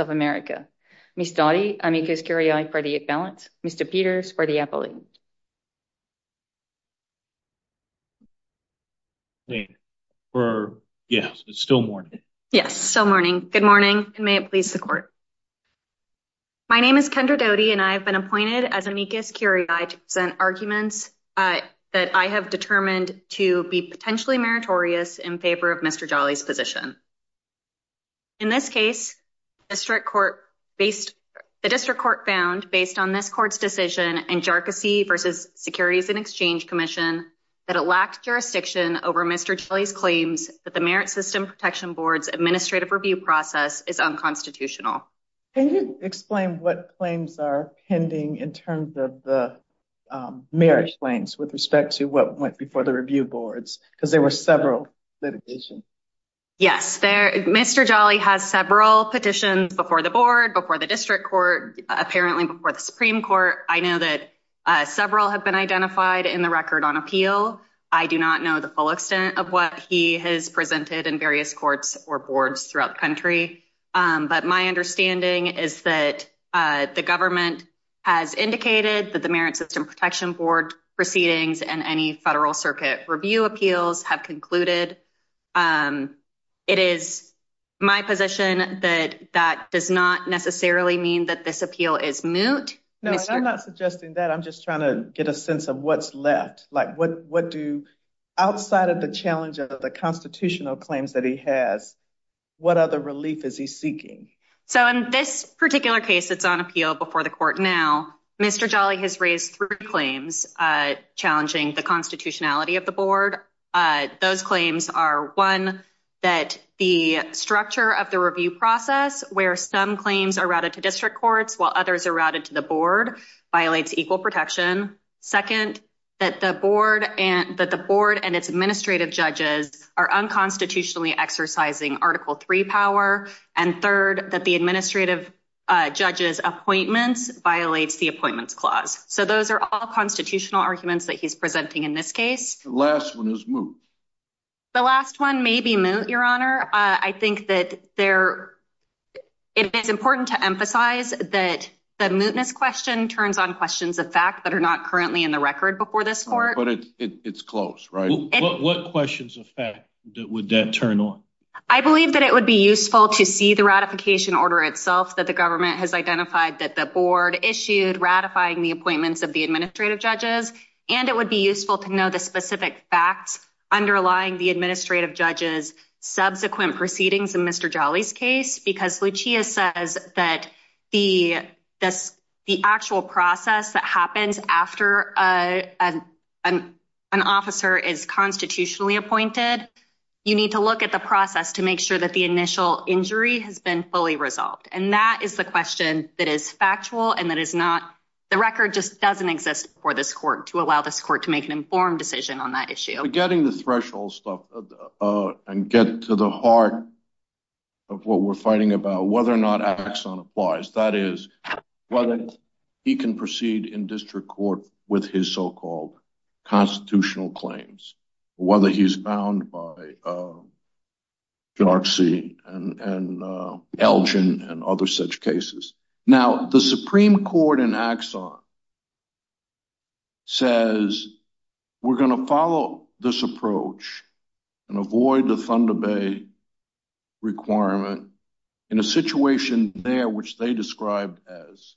of America, Miss Dodi, Amicus Curiae for the imbalance, Mr. Peters for the appellate. Yes, it's still morning. Yes, still morning. Good morning, and may it please the court. My name is Kendra Dodi, and I have been appointed as Amicus Curiae to present arguments that I have determined to be potentially meritorious in favor of Mr. Jolley's position. In this case, the district court found, based on this court's decision in Jarkissi v. Securities and Exchange Commission, that it lacked jurisdiction over Mr. Jolley's claims that the Merit System Protection Board's administrative review process is unconstitutional. Can you explain what claims are pending in terms of the merit claims with respect to what went before the review boards? Because there were several litigations. Yes, Mr. Jolley has several petitions before the board, before the district court, apparently before the Supreme Court. I know that several have been identified in the record on appeal. I do not know the full extent of what he has presented in various courts or boards throughout the country. But my understanding is that the government has indicated that the Merit System Protection Board proceedings and any federal circuit review appeals have concluded. It is my position that that does not necessarily mean that this appeal is moot. No, I'm not suggesting that. I'm just trying to get a sense of what's left. Like, what other relief is he seeking? So in this particular case, it's on appeal before the court now. Mr. Jolley has raised three claims challenging the constitutionality of the board. Those claims are, one, that the structure of the review process where some claims are routed to district courts while others are routed to the board violates equal protection. Second, that the board and that the board and its administrative judges are unconstitutionally exercising Article 3 power. And third, that the administrative judge's appointments violates the appointments clause. So those are all constitutional arguments that he's presenting in this case. The last one is moot. The last one may be moot, Your Honor. I think that there, it is important to emphasize that the mootness question turns on questions of fact that are not currently in the record before this court. But it's close, right? What questions of fact would that turn on? I believe that it would be useful to see the ratification order itself that the government has identified that the board issued ratifying the appointments of the administrative judges. And it would be useful to know the specific facts underlying the administrative judge's subsequent proceedings in Mr. Jolley's case. Because Lucia says that the actual process that happens after an officer is constitutionally appointed, you need to look at the process to make sure that the initial injury has been fully resolved. And that is the question that is factual and that is not, the record just doesn't exist for this court to allow this court to make an informed decision on that issue. Getting the threshold stuff and get to the heart of what we're fighting about, whether or not Axon applies. That is, whether he can proceed in district court with his so-called constitutional claims. Whether he's bound by Darcy and Elgin and other such cases. Now, the Supreme Court in Axon says, we're going to follow this approach and avoid the Thunder Department in a situation there, which they described as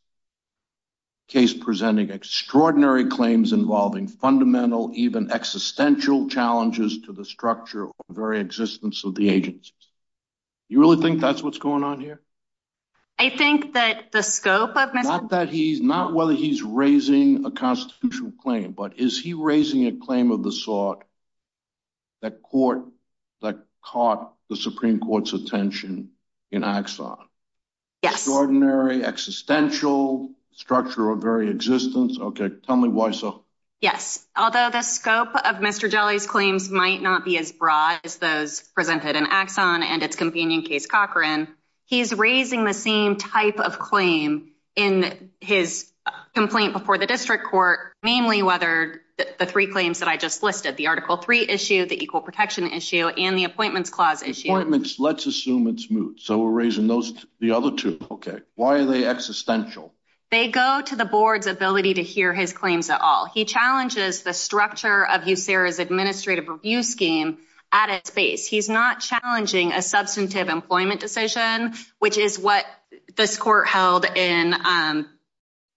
case presenting extraordinary claims involving fundamental, even existential challenges to the structure of the very existence of the agency. You really think that's what's going on here? I think that the scope of Mr. Not that he's, not whether he's raising a constitutional claim, but is he raising a claim of the sort that caught the Supreme Court's attention in Axon? Yes. Extraordinary, existential structure of very existence. Okay. Tell me why so. Yes. Although the scope of Mr. Jelly's claims might not be as broad as those presented in Axon and its companion case, Cochran, he's raising the same type of claim in his complaint before the district court. Namely, whether the three claims that I just listed, the article three issue, the equal protection issue and the appointments clause issue, let's assume it's moot. So we're raising those, the other two. Okay. Why are they existential? They go to the board's ability to hear his claims at all. He challenges the structure of you. Sarah's administrative review scheme at its base. He's not challenging a substantive employment decision, which is what this court held in, um,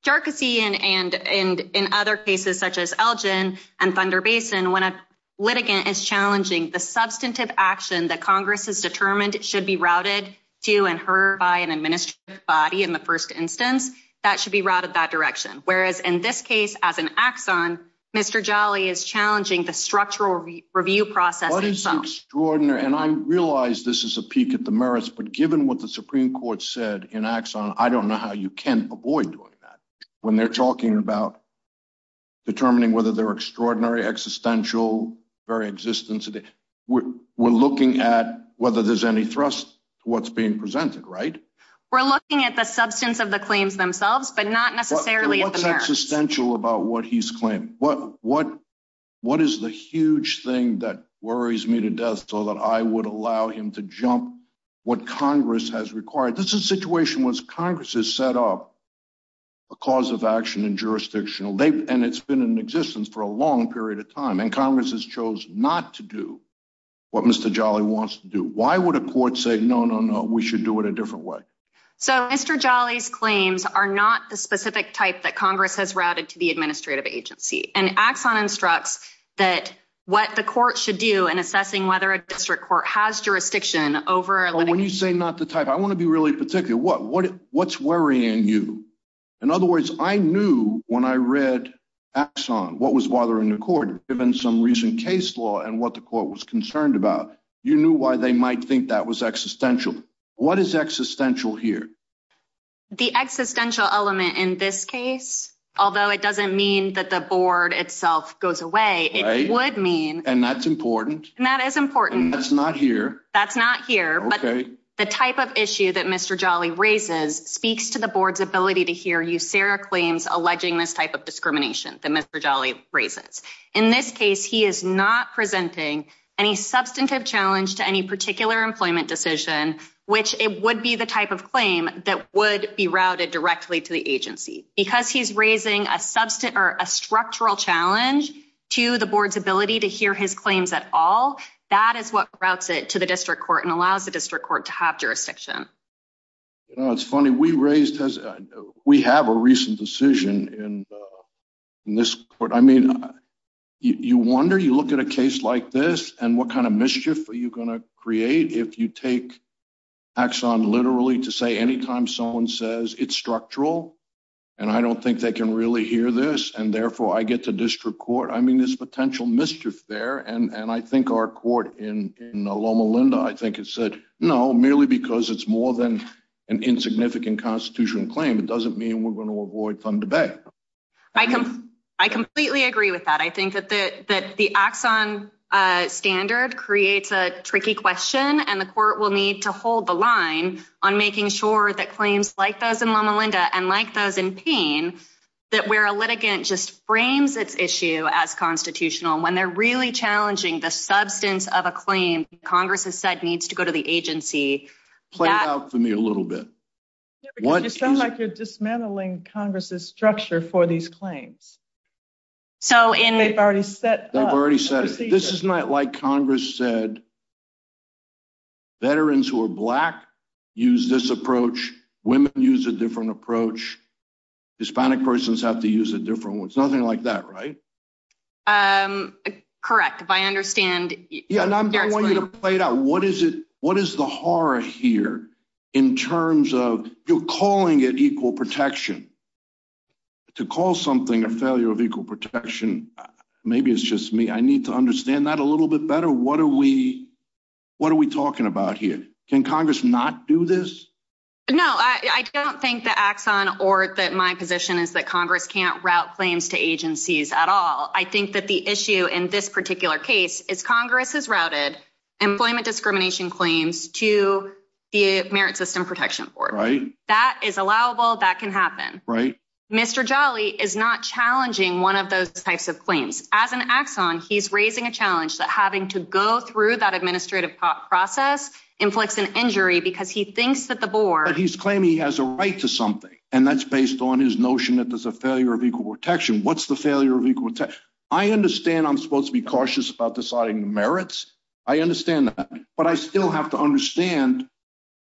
Darcy and, and, and in other cases such as Elgin and Thunder Basin, when a litigant is challenging the substantive action that Congress has determined should be routed to, and her by an administrative body in the first instance, that should be routed that direction. Whereas in this case, as an axon, Mr. Jolly is challenging the structural review process, extraordinary. And I realized this is a peak at the merits, but given what the Supreme court said in axon, I don't know how you can avoid doing that when they're talking about determining whether they're extraordinary, existential, very existence. We're, we're looking at whether there's any thrust to what's being presented, right? We're looking at the substance of the claims themselves, but not necessarily existential about what he's claimed. What, what, what is the huge thing that worries me to death so that I would allow him to jump what Congress has required. This is a situation once Congress has set up a cause of action and jurisdictional, they, and it's been in existence for a long period of time and Congress has chose not to do what Mr. Jolly wants to do. Why would a court say, no, no, no, we should do it a different way. So Mr. Jolly's claims are not the specific type that Congress has routed to the administrative agency and axon instructs that what the court should do in assessing whether a district court has jurisdiction over when you say not the type, I want to be really particular. What, what, what's worrying you? In other words, I knew when I read axon, what was bothering the court given some recent case law and what the court was concerned about, you knew why they might think that was existential. What is existential here? The existential element in this case, although it doesn't mean that the board itself goes away, it would mean, and that's important and that is important. That's not here. That's not here, but the type of issue that Mr. Jolly raises speaks to the board's ability to hear you. Sarah claims alleging this type of discrimination that Mr. Jolly raises. In this case, he is not presenting any substantive challenge to any particular employment decision, which it would be the type of claim that would be routed directly to the agency because he's raising a substance or a structural challenge to the board's ability to hear his claims at all. That is what routes it to the district court and allows the district court to have jurisdiction. You know, it's funny. We raised, we have a recent decision in this court. I mean, you wonder, you look at a case like this and what kind of mischief are you going to create if you axon literally to say anytime someone says it's structural and I don't think they can really hear this and therefore I get to district court. I mean, there's potential mischief there and I think our court in Loma Linda, I think it said, no, merely because it's more than an insignificant constitutional claim, it doesn't mean we're going to avoid some debate. I completely agree with that. I think that the axon standard creates a tricky question and the court will need to hold the line on making sure that claims like those in Loma Linda and like those in Payne, that where a litigant just frames its issue as constitutional, when they're really challenging the substance of a claim, Congress has said needs to go to the agency. Play it out for me a little bit. It sounds like you're dismantling Congress's structure for these claims. They've already set up. This is not like Congress said, veterans who are black use this approach. Women use a different approach. Hispanic persons have to use a different one. It's nothing like that, right? Correct. If I understand. Yeah, and I want you to play it out. What is it? What is the horror here in terms of you calling it equal protection to call something a failure of equal protection? Maybe it's just me. I need to understand that a little bit better. What are we talking about here? Can Congress not do this? No, I don't think the axon or that my position is that Congress can't route claims to agencies at all. I think that the issue in this particular case is Congress has routed employment discrimination claims to the Merit System Protection Board, right? That is allowable. That can happen, right? Mr. Jolly is not challenging one of those types of claims as an axon. He's raising a challenge that having to go through that administrative process inflicts an injury because he thinks that the board he's claiming he has a right to something. And that's based on his notion that there's a failure of equal protection. What's the failure of equal? I understand I'm supposed to be cautious about merits. I understand that, but I still have to understand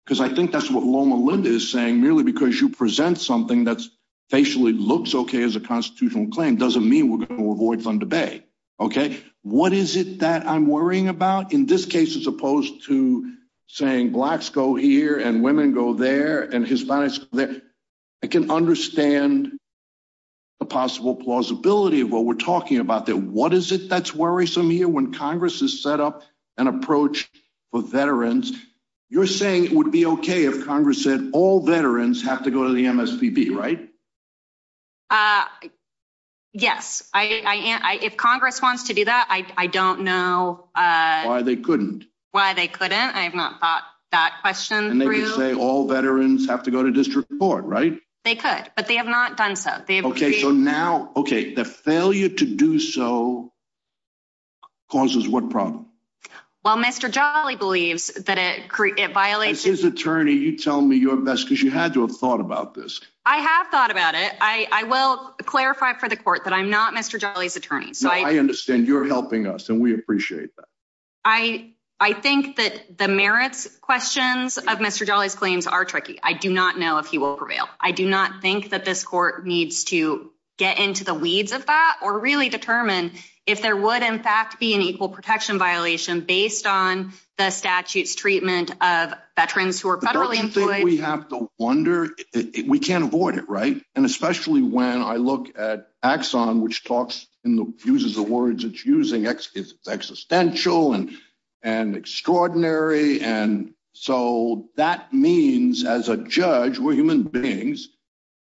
because I think that's what Loma Linda is saying. Merely because you present something that's facially looks okay as a constitutional claim doesn't mean we're going to avoid some debate. Okay. What is it that I'm worrying about in this case, as opposed to saying blacks go here and women go there and Hispanics there? I can understand the possible plausibility of what we're talking about there. What is it that's worrisome here when Congress has set up an approach for veterans? You're saying it would be okay if Congress said all veterans have to go to the MSPB, right? Yes. If Congress wants to do that, I don't know. Why they couldn't. Why they couldn't. I have not thought that question through. And they could say all veterans have to go to district court, right? They could, but they have not done so. Okay. So now, okay. The failure to do so causes what problem? Well, Mr. Jolly believes that it violates his attorney. You tell me your best, because you had to have thought about this. I have thought about it. I will clarify for the court that I'm not Mr. Jolly's attorney. So I understand you're helping us and we appreciate that. I think that the merits questions of Mr. Jolly's claims are tricky. I do not know if he will this court needs to get into the weeds of that or really determine if there would in fact be an equal protection violation based on the statutes treatment of veterans who are federally employed. We have to wonder, we can't avoid it, right? And especially when I look at Axon, which talks and uses the words it's using, it's existential and extraordinary. And so that means as a judge, we're human beings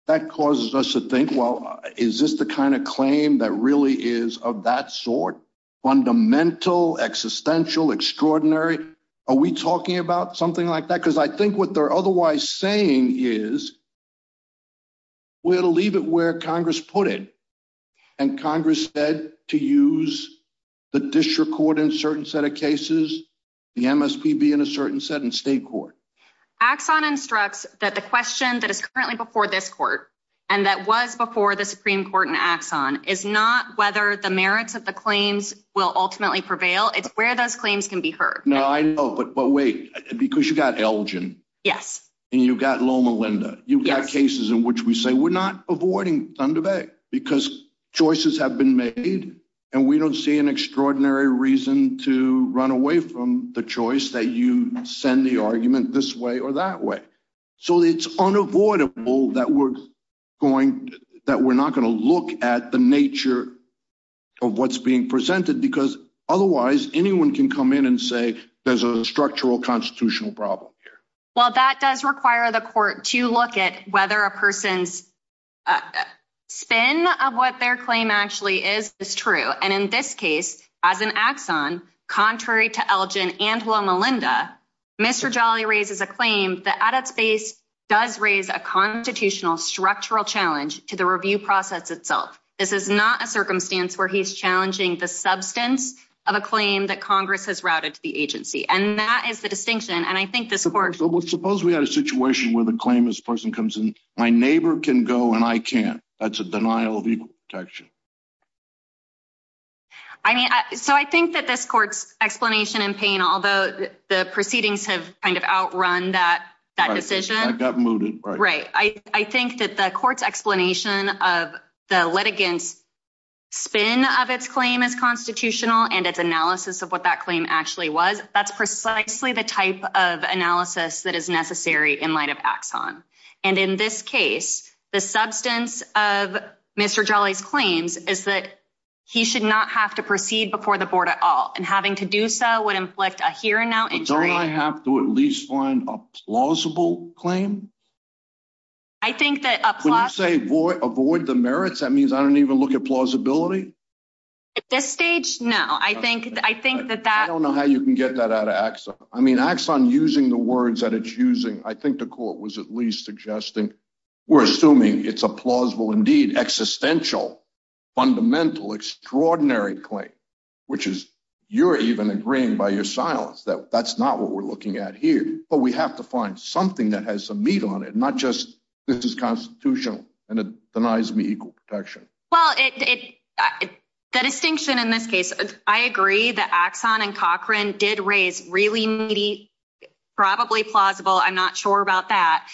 that causes us to think, well, is this the kind of claim that really is of that sort? Fundamental, existential, extraordinary. Are we talking about something like that? Because I think what they're otherwise saying is we had to leave it where Congress put it. And Congress said to use the district court in certain set of cases, the MSPB in a certain state court. Axon instructs that the question that is currently before this court and that was before the Supreme Court in Axon is not whether the merits of the claims will ultimately prevail. It's where those claims can be heard. No, I know. But wait, because you got Elgin. Yes. And you've got Loma Linda. You've got cases in which we say we're not avoiding Thunder Bay because choices have been made and we don't see an extraordinary reason to run away from the choice that you send the argument this way or that way. So it's unavoidable that we're going that we're not going to look at the nature of what's being presented, because otherwise anyone can come in and say there's a structural constitutional problem here. Well, that does require the court to look at whether a person's spin of what their claim actually is. It's true. And in this case, as an axon, contrary to Elgin and Loma Linda, Mr. Jolly raises a claim that at its base does raise a constitutional structural challenge to the review process itself. This is not a circumstance where he's challenging the substance of a claim that Congress has routed to the agency. And that is the distinction. And I think this court. So suppose we had a situation where the claim is my neighbor can go and I can't. That's a denial of equal protection. I mean, so I think that this court's explanation in pain, although the proceedings have kind of outrun that that decision, I got mooted. Right. I think that the court's explanation of the litigants spin of its claim is constitutional and its analysis of what that claim actually was. That's precisely the type of analysis that is necessary in light of axon. And in this case, the substance of Mr. Jolly's claims is that he should not have to proceed before the board at all. And having to do so would inflict a here and now injury. I have to at least find a plausible claim. I think that a plot, say, boy, avoid the merits, that means I don't even look at that axon. I mean, axon using the words that it's using, I think the court was at least suggesting we're assuming it's a plausible, indeed, existential, fundamental, extraordinary claim, which is you're even agreeing by your silence that that's not what we're looking at here. But we have to find something that has some meat on it, not just this is constitutional and it denies me equal protection. Well, the distinction in this case, I agree that axon and Cochran did raise really needy, probably plausible, I'm not sure about that,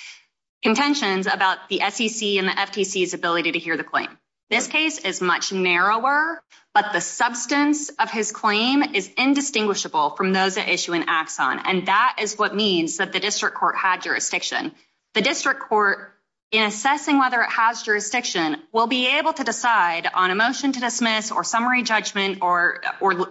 contentions about the SEC and the FTC's ability to hear the claim. This case is much narrower, but the substance of his claim is indistinguishable from those that issue an axon. And that is what means that the district court had jurisdiction. The district court, in assessing whether it has jurisdiction, will be able to decide on a motion to dismiss or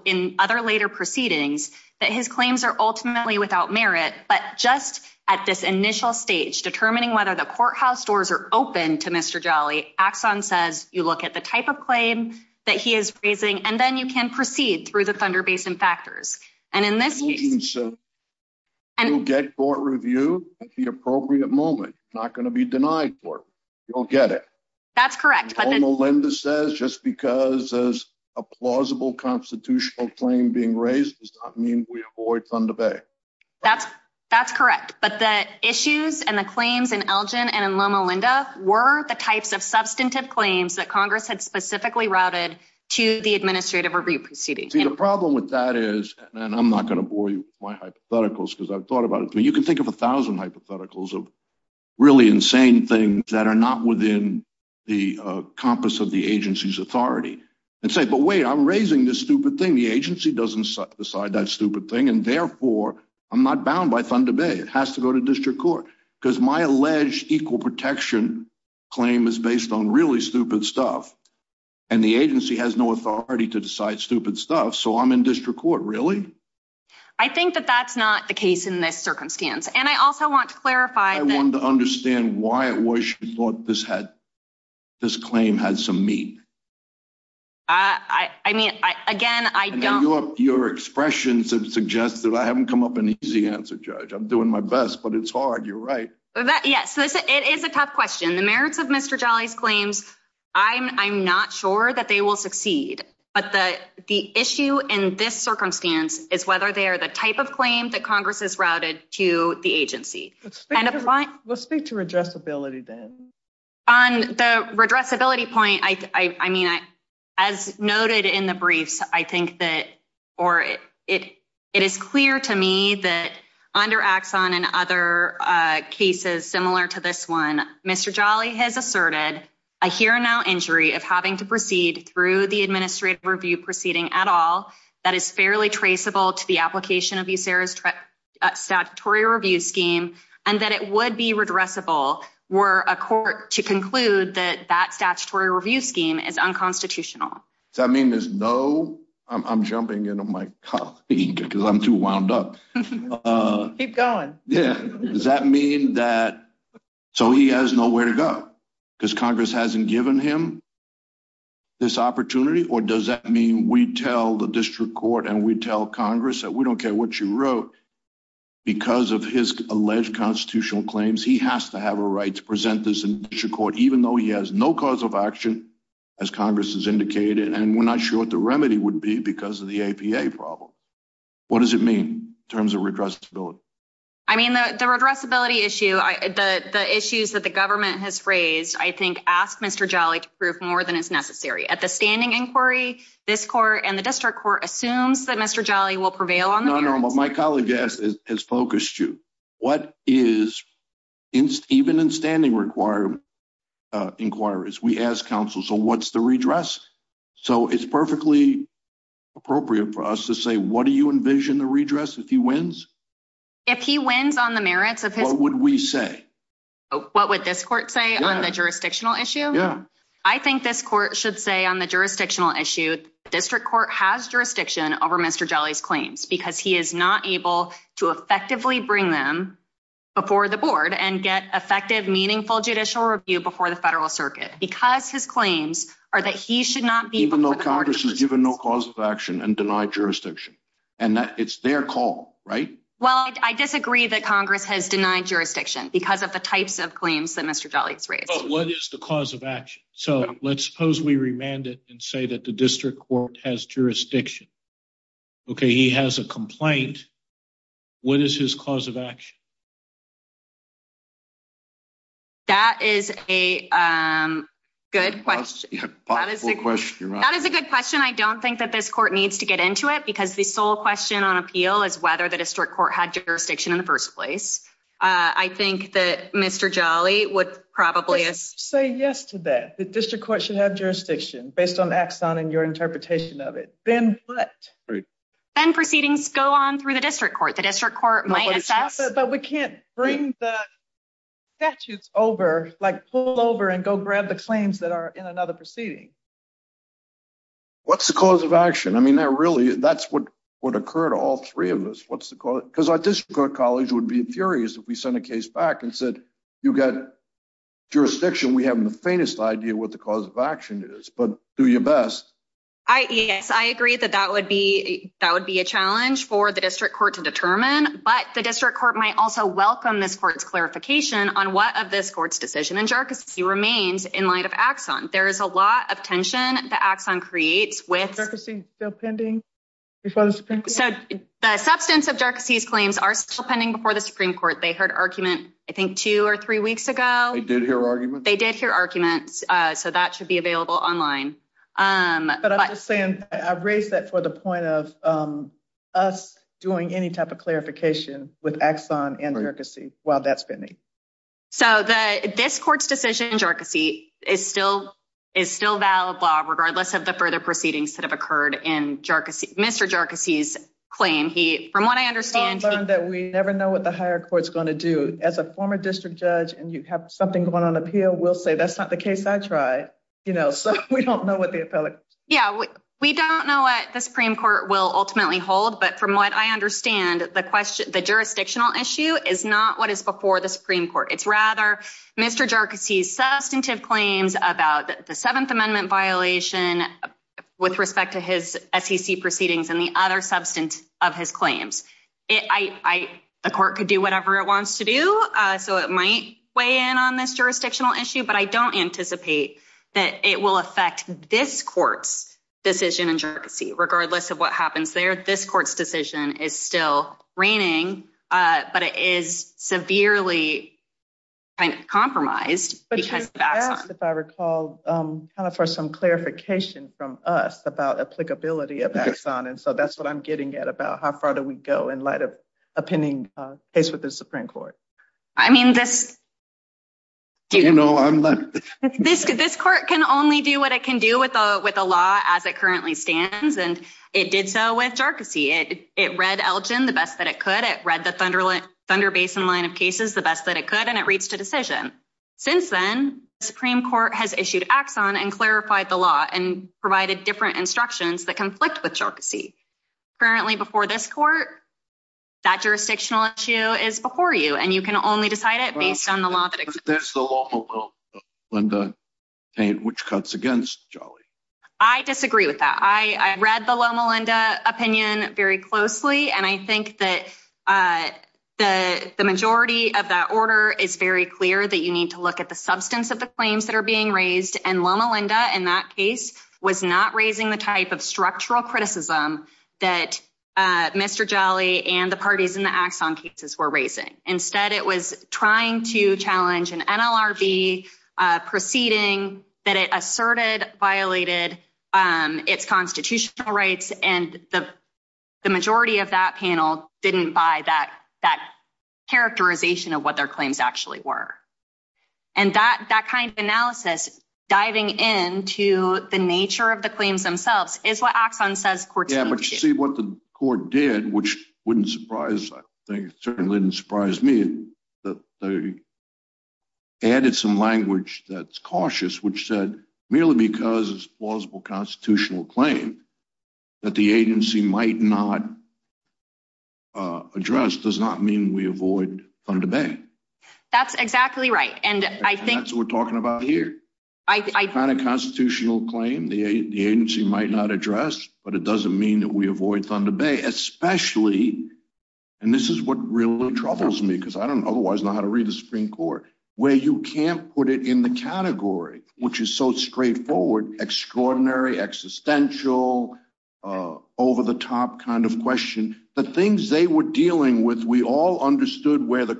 in other later proceedings that his claims are ultimately without merit. But just at this initial stage, determining whether the courthouse doors are open to Mr. Jolly, axon says you look at the type of claim that he is raising, and then you can proceed through the Thunder Basin factors. And in this case, you'll get court review at the appropriate moment, not going to be denied for it. You'll get it. That's correct. Loma Linda says just because there's a plausible constitutional claim being raised does not mean we avoid Thunder Bay. That's correct. But the issues and the claims in Elgin and in Loma Linda were the types of substantive claims that Congress had specifically routed to the administrative review proceedings. The problem with that is, and I'm not going to bore you with my hypotheticals because I've thought about it, but you can think of a thousand hypotheticals of really insane things that are not within the compass of the agency's authority. And say, but wait, I'm raising this stupid thing. The agency doesn't decide that stupid thing. And therefore I'm not bound by Thunder Bay. It has to go to district court because my alleged equal protection claim is based on really stupid stuff. And the agency has no authority to decide stupid stuff. So I'm in district court. Really? I think that that's not the case in this I wanted to understand why it was she thought this had this claim had some meat. I mean, again, I don't know your expressions have suggested I haven't come up an easy answer, judge. I'm doing my best, but it's hard. You're right. Yes, it is a tough question. The merits of Mr. Jolly's claims. I'm not sure that they will succeed, but the issue in this circumstance is whether they are the type of claim that Congress has routed to the agency. Let's speak to address ability, then on the address ability point. I mean, as noted in the briefs, I think that or it is clear to me that under Axon and other cases similar to this one, Mr. Jolly has asserted a here now injury of having to proceed through the administrative review proceeding at all. That is fairly traceable to the application of you. Sarah's statutory review scheme and that it would be redressable were a court to conclude that that statutory review scheme is unconstitutional. I mean, there's no I'm jumping into my colleague because I'm too wound up. Keep going. Yeah. Does that mean that so he has nowhere to go because Congress hasn't given him this opportunity? Or does that mean we tell the district court and we tell Congress that we don't care what you wrote because of his alleged constitutional claims? He has to have a right to present this in court, even though he has no cause of action, as Congress has indicated. And we're not sure what the remedy would be because of the APA problem. What does it mean in terms of redressability? I mean, the redressability issue, the issues that the government has raised, I think, ask Mr. Jolly to prove more than is necessary at the standing inquiry. This court and the district court assumes that Mr. Jolly will prevail on the normal. My colleague has focused you. What is even in standing requirement inquiries? We ask counsel. So what's the redress? So it's perfectly appropriate for us to say, what do you envision the redress if he wins? If he wins on the merits of what would we say? What would this court say on the jurisdictional issue? Yeah, I think this court should say on the jurisdictional issue, the district court has jurisdiction over Mr. Jolly's claims because he is not able to effectively bring them before the board and get effective, meaningful judicial review before the federal circuit because his claims are that he should not be even though Congress has given no cause of action and denied jurisdiction and that it's their call, right? Well, I disagree that Congress has denied jurisdiction because of the types of claims that Mr. Jolly has raised. What is the cause of action? So let's suppose we remand it and say that the district court has jurisdiction. Okay, he has a complaint. What is his cause of action? That is a good question. That is a good question. I don't think that this court needs to get into it because the sole question on appeal is whether the district court had jurisdiction in the first place. I think that Mr. Jolly would probably say yes to that. The district court should have jurisdiction based on axon and your interpretation of it. Then what? Then proceedings go on through district court. The district court might assess. But we can't bring the statutes over, like pull over and go grab the claims that are in another proceeding. What's the cause of action? I mean, that really, that's what would occur to all three of us. Because our district court colleagues would be furious if we sent a case back and said, you've got jurisdiction. We haven't the faintest idea what the cause of action is, but do your challenge for the district court to determine. But the district court might also welcome this court's clarification on what of this court's decision and jerks. He remains in light of axon. There is a lot of tension that axon creates with pending before the substance of jerks. These claims are still pending before the Supreme Court. They heard argument, I think, two or three weeks ago. They did hear arguments. So that should be available online. But I'm just saying I've raised that for the point of us doing any type of clarification with axon and jerks while that's been. So this court's decision is still is still valid law, regardless of the further proceedings that have occurred in jerks. Mr. Jerkacies claim he from what I understand that we never know what the higher court's going to do as a former district judge. And you have something going on appeal. We'll say that's not the case. I try. You know, we don't know what the appellate. Yeah, we don't know what the Supreme Court will ultimately hold. But from what I understand, the question, the jurisdictional issue is not what is before the Supreme Court. It's rather Mr. Jerkacies substantive claims about the Seventh Amendment violation with respect to his SEC proceedings and the other substance of his claims. I, the court could do whatever it wants to do. So it might weigh in on this jurisdictional issue. But I don't anticipate that it will affect this court's decision. And regardless of what happens there, this court's decision is still reigning, but it is severely compromised because if I recall, kind of for some clarification from us about applicability of axon. And so that's what I'm getting at about how far do we go in light of a pending case with the Supreme Court? I mean, this, you know, this court can only do what it can do with the law as it currently stands. And it did so with Jerkacy. It read Elgin the best that it could. It read the Thunder Basin line of cases the best that it could. And it reached a decision. Since then, the Supreme Court has issued axon and clarified the law and provided different instructions that conflict with Jerkacy. Currently before this court, that jurisdictional issue is before you and you can only decide it based on the law that exists. There's the Loma Linda, which cuts against Jolly. I disagree with that. I read the Loma Linda opinion very closely. And I think that the majority of that order is very clear that you need to look at the substance of the claims that are being raised. And Loma Linda in that case was not raising the type of structural criticism that Mr. Jolly and the parties in the axon cases were raising. Instead, it was trying to challenge an NLRB proceeding that it asserted violated its constitutional rights. And the majority of that panel didn't buy that characterization of what their claims actually were. And that kind of what the court did, which wouldn't surprise, I think certainly didn't surprise me that they added some language that's cautious, which said merely because it's a plausible constitutional claim that the agency might not address does not mean we avoid Thunder Bay. That's exactly right. And I think that's what we're talking about here. I find a constitutional claim the agency might not address, but it doesn't mean that we avoid Thunder Bay, especially. And this is what really troubles me because I don't otherwise know how to read the Supreme Court, where you can't put it in the category, which is so straightforward, extraordinary, existential, over the top kind of question. The things they were dealing with, we all understood where the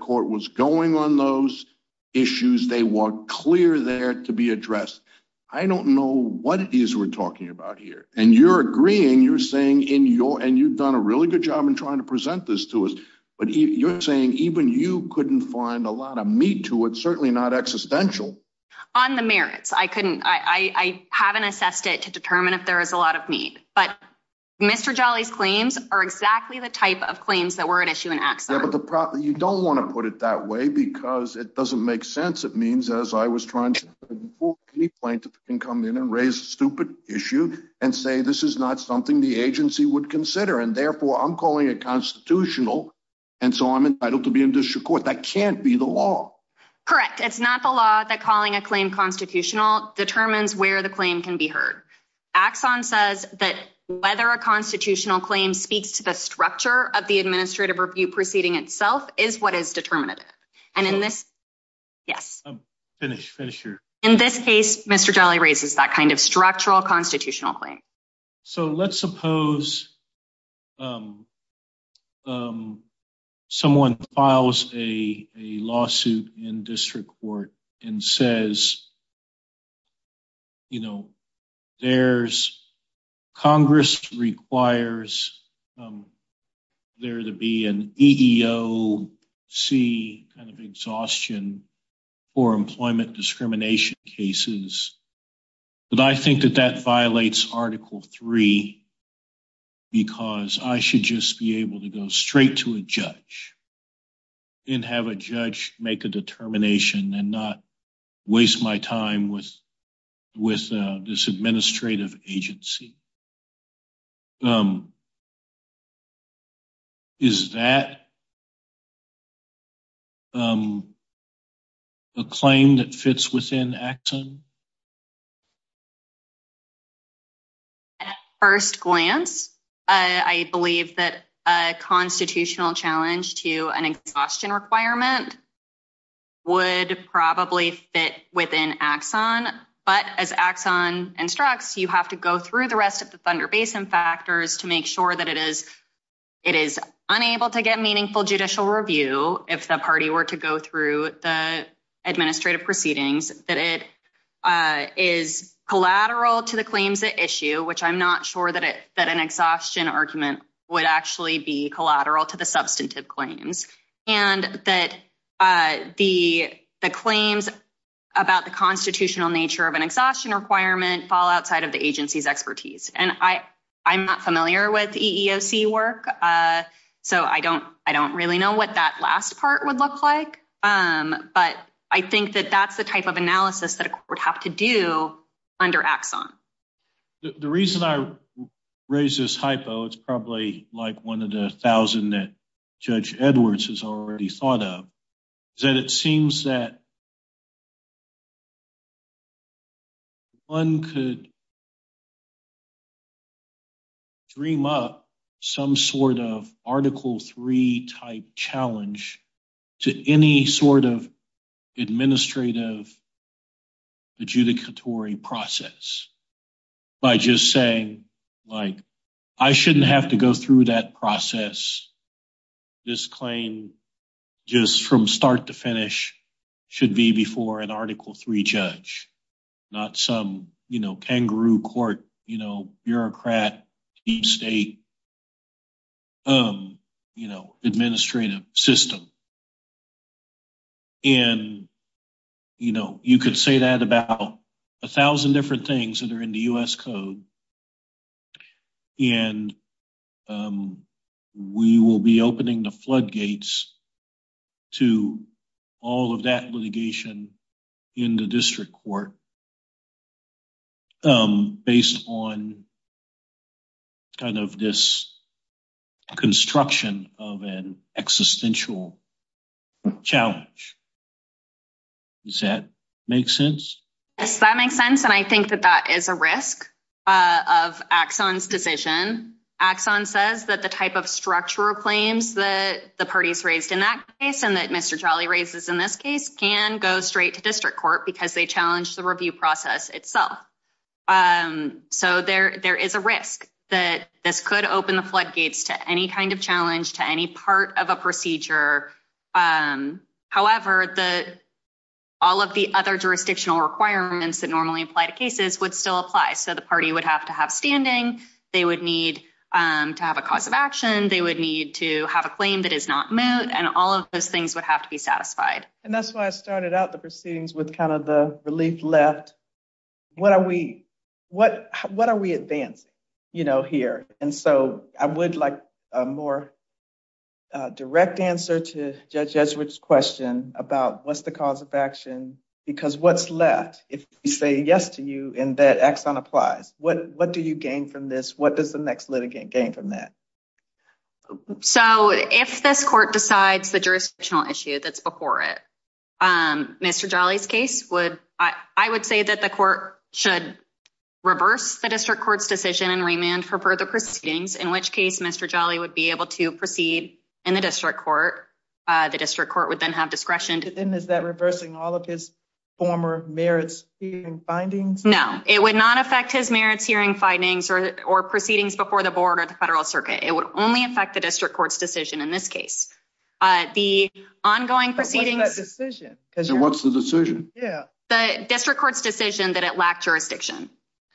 what it is we're talking about here. And you're agreeing, you're saying in your and you've done a really good job in trying to present this to us. But you're saying even you couldn't find a lot of meat to it, certainly not existential. On the merits, I couldn't, I haven't assessed it to determine if there is a lot of meat. But Mr. Jolly's claims are exactly the type of claims that were at issue in axon. You don't want to put it that way, because it doesn't make sense. It means as I was trying to come in and raise a stupid issue and say this is not something the agency would consider. And therefore I'm calling it constitutional. And so I'm entitled to be in district court. That can't be the law. Correct. It's not the law that calling a claim constitutional determines where the claim can be heard. Axon says that whether a constitutional claim speaks to the structure of the administrative review proceeding itself is what is determinative. And in this case, Mr. Jolly raises that kind of structural constitutional claim. So let's suppose someone files a lawsuit in district court and says, you know, there's Congress requires there to be an EEOC kind of exhaustion for employment discrimination cases. But I think that that violates article three, because I should just be able to go straight to a judge and have a judge make a determination and not waste my time with this administrative agency. Is that a claim that fits within axon? At first glance, I believe that a constitutional challenge to an exhaustion requirement would probably fit within axon. But as axon instructs, you have to go through the rest of the Thunder Basin factors to make sure that it is it is unable to get meaningful judicial review. If the party were to go through the administrative proceedings, that it is collateral to the claims at issue, which I'm not sure that it that an exhaustion argument would actually be collateral to the substantive claims and that the the claims about the constitutional nature of an exhaustion requirement fall outside of the agency's expertise. And I I'm not familiar with EEOC work. So I don't I don't really know what that last part would look like. But I think that that's the type of analysis that would have to do under axon. The reason I raise this hypo, it's probably like one of the thousand that Judge Edwards has already thought of, is that it seems that one could dream up some sort of article three type challenge to any sort of administrative adjudicatory process by just saying, like, I shouldn't have to go through that process. This claim, just from start to finish, should be before an article three judge, not some, you know, kangaroo court, you know, bureaucrat state, you know, administrative system. And, you know, you could say that about a thousand different things that are in the U.S. code. And we will be opening the floodgates to all of that litigation in the district court, um, based on kind of this construction of an existential challenge. Does that make sense? Yes, that makes sense. And I think that that is a risk of axon's decision. Axon says that the type of structural claims that the parties raised in that case and that Mr. Jolly raises in this case can go straight to district court because they challenged the review process itself. So there is a risk that this could open the floodgates to any kind of challenge to any part of a procedure. However, all of the other jurisdictional requirements that normally apply to cases would still apply. So the party would have to have standing. They would need to have a cause of action. They would need to have a claim that is not moot. And all of those would have to be satisfied. And that's why I started out the proceedings with kind of the relief left. What are we advancing, you know, here? And so I would like a more direct answer to Judge Edgeworth's question about what's the cause of action because what's left if we say yes to you and that axon applies? What do you gain from this? What does the next litigant gain from that? So if this court decides the jurisdictional issue that's before it, Mr. Jolly's case would, I would say that the court should reverse the district court's decision and remand for further proceedings, in which case Mr. Jolly would be able to proceed in the district court. The district court would then have discretion. Then is that reversing all of his former merits hearing findings? No, it would not affect his merits hearing findings or proceedings before the board of the federal circuit. It would only affect the district court's decision in this case. But what's that decision? What's the decision? Yeah, the district court's decision that it lacked jurisdiction.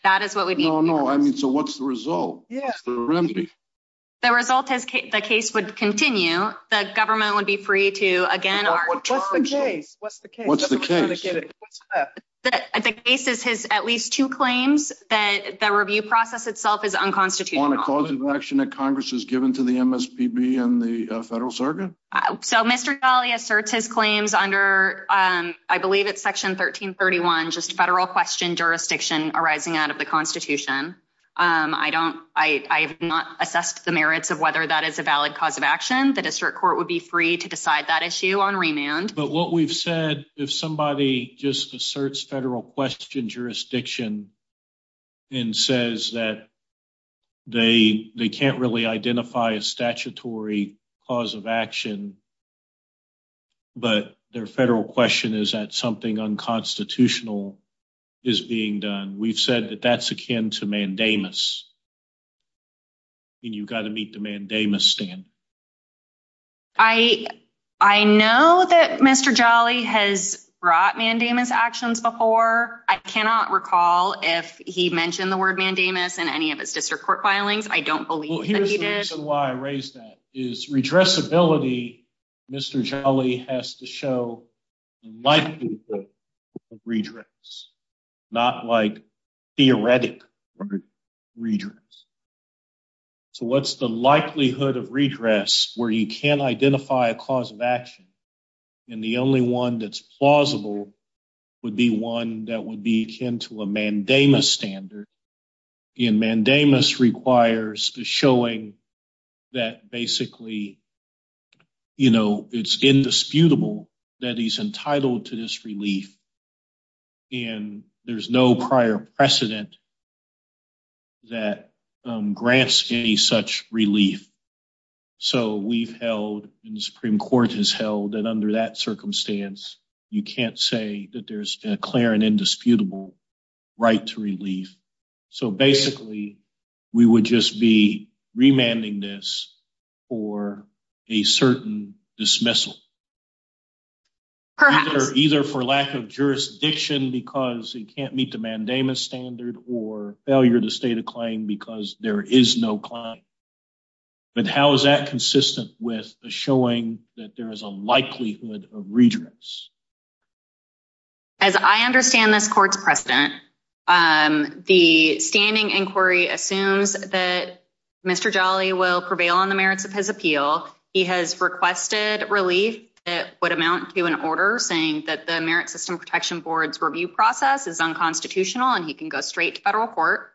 That is what we need. No, no. I mean, so what's the result? Yeah. The result is the case would continue. The government would be free to again. What's the case? What's the case? What's the case? The case is his at least two claims that the review process itself is unconstitutional. A cause of action that Congress has given to the MSPB and the federal circuit. So Mr. Jolly asserts his claims under, I believe it's section 1331, just federal question jurisdiction arising out of the constitution. I don't, I have not assessed the merits of whether that is a valid cause of action. The district court would be free to decide that issue on remand. But what we've said, if somebody just asserts federal question jurisdiction and says that they, they can't really identify a statutory cause of action, but their federal question is that something unconstitutional is being done. We've said that that's akin to mandamus and you've got to meet the mandamus stand. I, I know that Mr. Jolly has brought mandamus actions before. I cannot recall if he mentioned the word mandamus in any of his district court filings. I don't believe that he did. The reason why I raised that is redressability. Mr. Jolly has to show the likelihood of redress, not like theoretic redress. So what's the likelihood of redress where you can't identify a cause of action and the only one that's plausible would be one that would be akin to a mandamus standard. And mandamus requires the showing that basically, you know, it's indisputable that he's entitled to this relief and there's no prior precedent that grants any such relief. So we've held and the Supreme Court has held that under that circumstance, you can't say that there's a clear and indisputable right to relief. So basically, we would just be remanding this for a certain dismissal, either for lack of jurisdiction because it can't meet the mandamus standard or failure to state a claim because there is no claim. But how is that consistent with showing that there is a likelihood of redress? As I understand this court's precedent, the standing inquiry assumes that Mr. Jolly will prevail on the merits of his appeal. He has requested relief that would amount to an order saying that the Merit System Protection Board's review process is unconstitutional and he can go straight to federal court.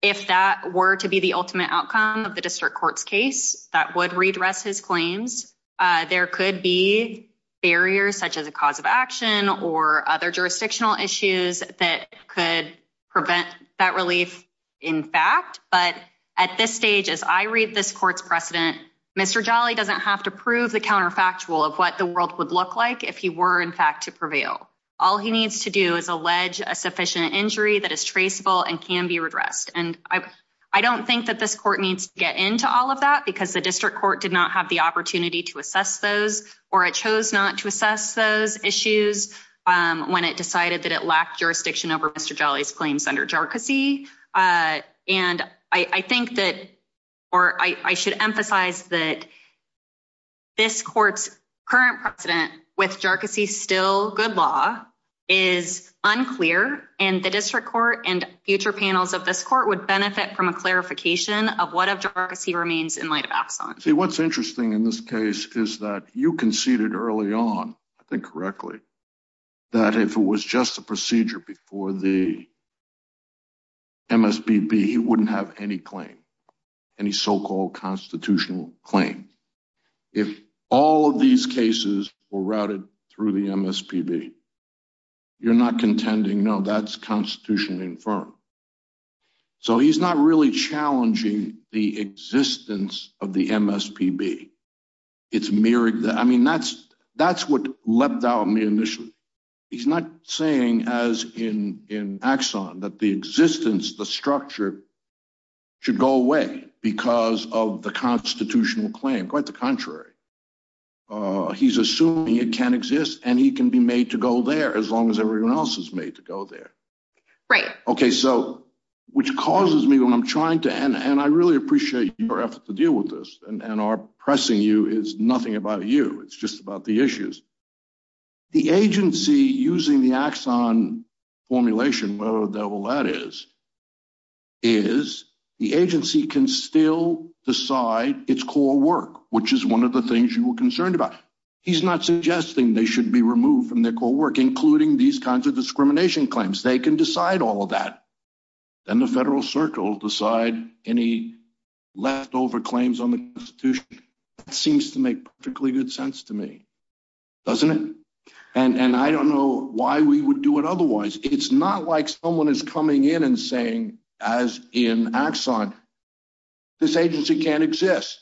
If that were to be the ultimate outcome of the district court's case, that would redress his claims. There could be barriers such as a cause of action or other jurisdictional issues that could prevent that relief in fact. But at this stage, as I read this court's precedent, Mr. Jolly doesn't have to prove the counterfactual of what the world would look like if he were in fact to prevail. All he needs to do is allege a sufficient injury that is traceable and can be redressed. I don't think that this court needs to get into all of that because the district court did not have the opportunity to assess those or it chose not to assess those issues when it decided that it lacked jurisdiction over Mr. Jolly's claims under jarcossy. I should emphasize that this is unclear and the district court and future panels of this court would benefit from a clarification of what of jarcossy remains in light of Axon. See, what's interesting in this case is that you conceded early on, I think correctly, that if it was just a procedure before the MSPB, he wouldn't have any claim, any so-called constitutional claim. If all of these cases were routed through the MSPB, you're not contending, no, that's constitutionally infirmed. So he's not really challenging the existence of the MSPB. I mean, that's what left out me initially. He's not saying as in Axon that the existence, the structure should go away because of the constitutional claim. Quite the contrary. He's assuming it can exist and he can be made to go there as long as everyone else is made to go there. Right. Okay. So which causes me when I'm trying to, and I really appreciate your effort to deal with this and our pressing you is nothing about you. It's just about the issues. The agency using the Axon formulation, whatever the devil that is, is the agency can still decide its core work, which is one of the things you were concerned about. He's not suggesting they should be removed from their core work, including these kinds of discrimination claims. They can decide all of that. Then the federal circle decide any leftover claims on the constitution. It seems to make perfectly good sense to me, doesn't it? And I don't know why we would do it otherwise. It's not like someone is coming in and saying, as in Axon, this agency can't exist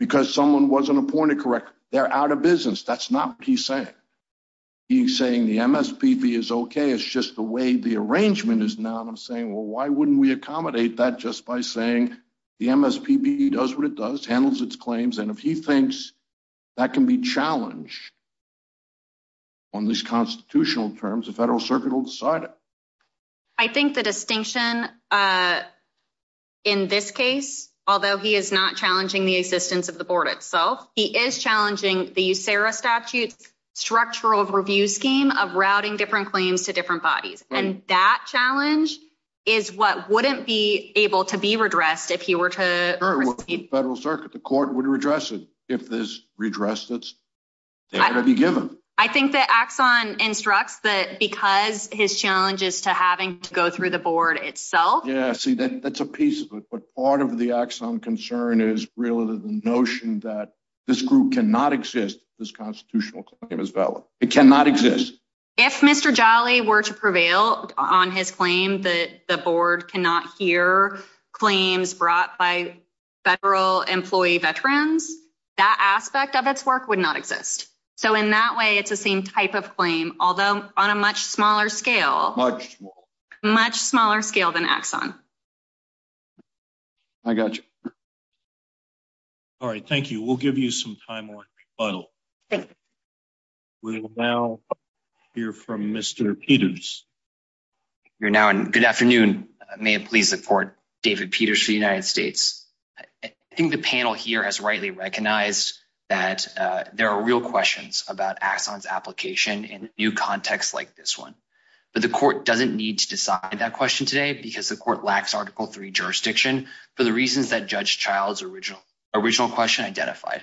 because someone wasn't appointed correctly. They're out of business. That's not what he's saying. He's saying the MSPB is okay. It's just the way the arrangement is now. And I'm saying, well, why wouldn't we accommodate that just by saying the MSPB does what it does, handles its claims. And if he thinks that can be challenged, on these constitutional terms, the federal circuit will decide it. I think the distinction in this case, although he is not challenging the existence of the board itself, he is challenging the USERRA statute structural review scheme of routing different claims to different bodies. And that challenge is what wouldn't be able to be redressed if he were to federal circuit, the court would redress it. If this redressed it, it would be given. I think that Axon instructs that because his challenge is to having to go through the board itself. Yeah, see, that's a piece of it. But part of the axon concern is really the notion that this group cannot exist. This constitutional claim is valid. It cannot exist. If Mr. Jolly were to prevail on his claim that the board cannot hear claims brought by federal employee veterans, that aspect of its work would not exist. So in that way, it's the same type of claim, although on a much smaller scale, much smaller scale than axon. I got you. All right. Thank you. We'll give you some time on rebuttal. Thank you. We'll now hear from Mr. Peters. You're now in. Good afternoon. May it please the court, David Peters for the United States. I think the panel here has rightly recognized that there are real questions about axons application in new contexts like this one. But the court doesn't need to decide that question today because the court lacks article three jurisdiction for the reasons that Judge Child's original question identified.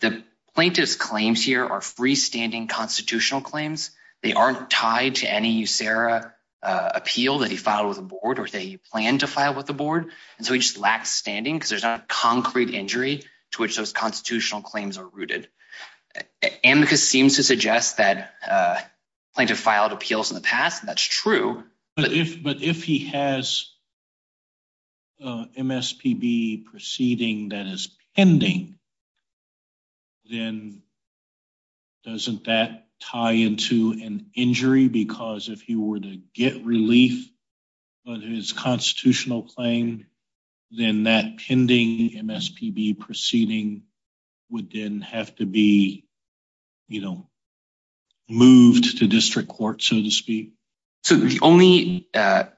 The plaintiff's claims here are freestanding constitutional claims. They aren't tied to any USERRA appeal that he filed with the board or that he planned to file with the board. And so he just lacks standing because there's not concrete injury to which those constitutional claims are rooted. Amicus seems to suggest that plaintiff filed appeals in the past, and that's true. But if he has MSPB proceeding that is pending, then doesn't that tie into an injury? Because if he were to get relief on his constitutional claim, then that pending MSPB proceeding would then have to be, you know, moved to district court, so to speak. So the only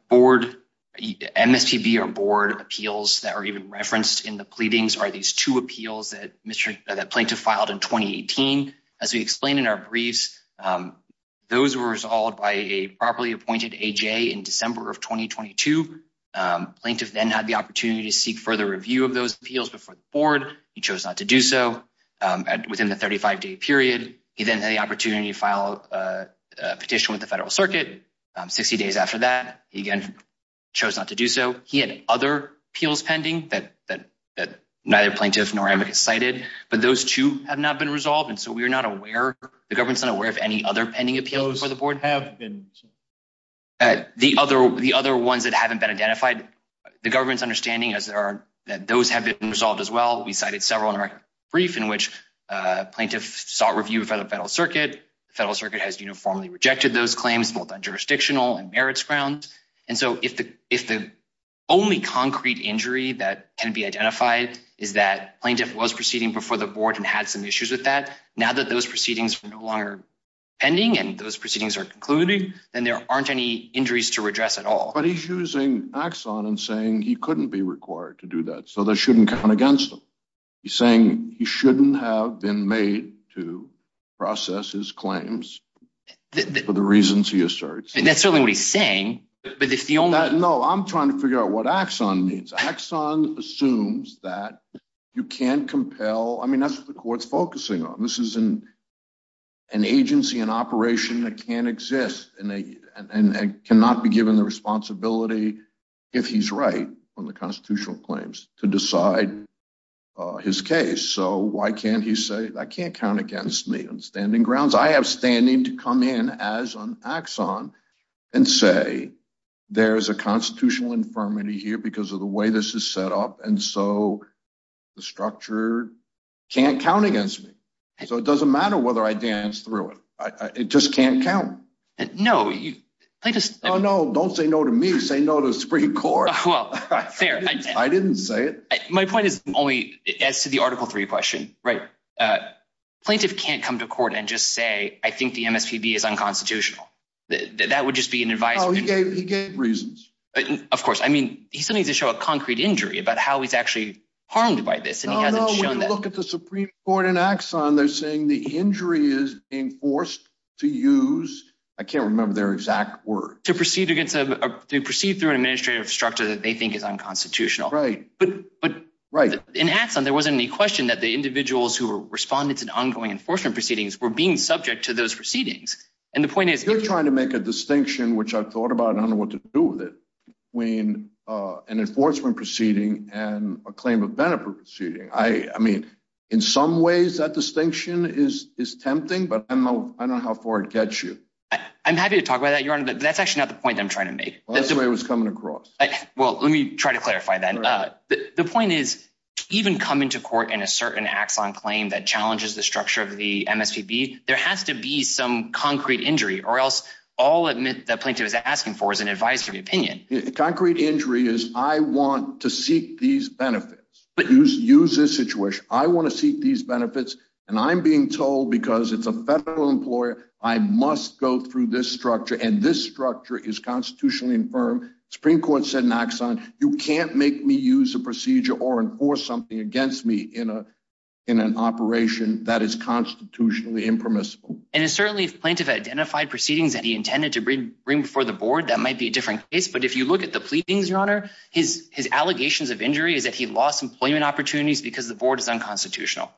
board MSPB or board appeals that are even referenced in the pleadings are these two appeals that plaintiff filed in 2018. As we explained in our briefs, those were resolved by a properly appointed AJ in December of 2022. Plaintiff then had the opportunity to seek further review of those appeals before the board. He then had the opportunity to file a petition with the federal circuit. 60 days after that, he again chose not to do so. He had other appeals pending that neither plaintiff nor Amicus cited, but those two have not been resolved. And so we are not aware, the government's not aware of any other pending appeals for the board. Those have been. The other ones that haven't been identified, the government's understanding is that those have been resolved as well. We cited several briefs in which plaintiffs sought review for the federal circuit. The federal circuit has uniformly rejected those claims, both on jurisdictional and merits grounds. And so if the only concrete injury that can be identified is that plaintiff was proceeding before the board and had some issues with that, now that those proceedings are no longer pending and those proceedings are concluding, then there aren't any injuries to redress at all. But he's using axon and saying he couldn't be required to do that. So that shouldn't count against him. He's saying he shouldn't have been made to process his claims for the reasons he asserts. That's certainly what he's saying, but if the only... No, I'm trying to figure out what axon means. Axon assumes that you can't compel. I mean, that's what the court's focusing on. This is an agency, an operation that can't exist and cannot be given the responsibility if he's right on the constitutional claims to decide his case. So why can't he say, I can't count against me on standing grounds. I have standing to come in as an axon and say, there's a constitutional infirmity here because of the way this is set up. And so the structure can't count against me. So it doesn't matter whether I dance through it. It just can't count. No, you... Oh no, don't say no to me. Say no to the Supreme Court. Well, fair. I didn't say it. My point is only as to the article three question, right? Plaintiff can't come to court and just say, I think the MSPB is unconstitutional. That would just be an advice. No, he gave reasons. Of course. I mean, he still needs to show a concrete injury about how he's actually harmed by this and he hasn't shown that. No, no. When you look at the Supreme Court and axon, they're saying the injury is being forced to use, I can't remember their exact word. To proceed through an administrative structure that they think is unconstitutional. Right. But in axon, there wasn't any question that the individuals who responded to the ongoing enforcement proceedings were being subject to those proceedings. And the point is... You're trying to make a distinction, which I've thought about and I don't know what to do with it, between an enforcement proceeding and a claim of benefit proceeding. I mean, in some ways that distinction is tempting, but I don't know how far it gets you. I'm happy to talk about that, Your Honor, but that's actually not the point I'm trying to make. That's the way it was coming across. Well, let me try to clarify that. The point is even coming to court in a certain axon claim that challenges the structure of the MSPB, there has to be some concrete injury or else all the plaintiff is asking for is an advisory opinion. Concrete injury is, I want to seek these benefits. Use this situation. I want to seek these benefits and I'm being told because it's a federal employer, I must go through this structure. And this structure is constitutionally infirm. Supreme Court said in axon, you can't make me use a procedure or enforce something against me in an operation that is constitutionally impermissible. And it's certainly if plaintiff identified proceedings that he intended to bring before the board, that might be a different case. But if you look at the pleadings, Your Honor, his allegations of injury is that he lost employment opportunities because the board is unconstitutional.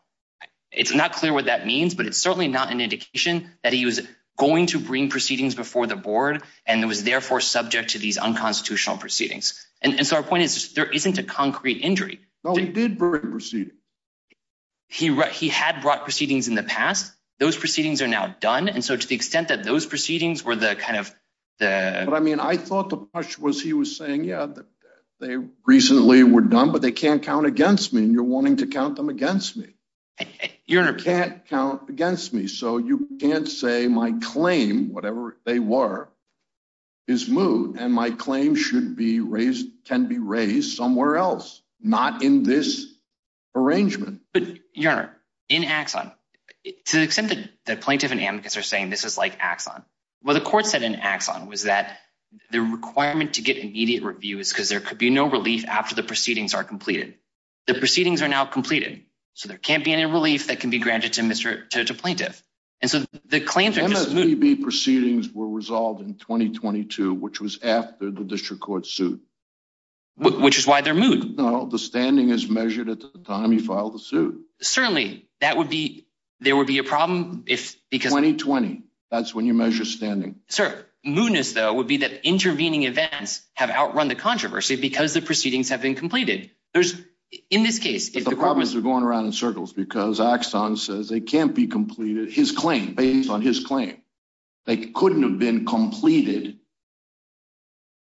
It's not clear what that means, but it's certainly not an indication that he was going to bring proceedings before the board and it was therefore subject to these unconstitutional proceedings. And so our point is there isn't a concrete injury. No, he did bring proceedings. He had brought proceedings in the past. Those proceedings are now done. And so to the extent that those proceedings were the kind of the... But I mean, I thought the question was, he was saying, yeah, they recently were done, but they can't count against me. And you're wanting to count them against me. Your Honor... Can't count against me. So you can't say my claim, whatever they were, is moot. And my claim should be raised, can be raised somewhere else, not in this arrangement. But Your Honor, in Axon, to the extent that plaintiff and amicus are saying this is like Axon, what the court said in Axon was that the requirement to get immediate review is because there could be no relief after the proceedings are completed. The proceedings are now completed. So there can't be any relief that can be granted to plaintiff. And so the claims are just moot. Proceedings were resolved in 2022, which was after the district court suit. Which is why they're moot. No, the standing is measured at the time he filed the suit. Certainly, that would be, there would be a problem if because... 2020, that's when you measure standing. Sir, mootness though, would be that intervening events have outrun the controversy because the proceedings have been completed. There's, in this case... But the problem is they're going around in circles because Axon says they can't be completed, his claim, based on his claim. They couldn't have been completed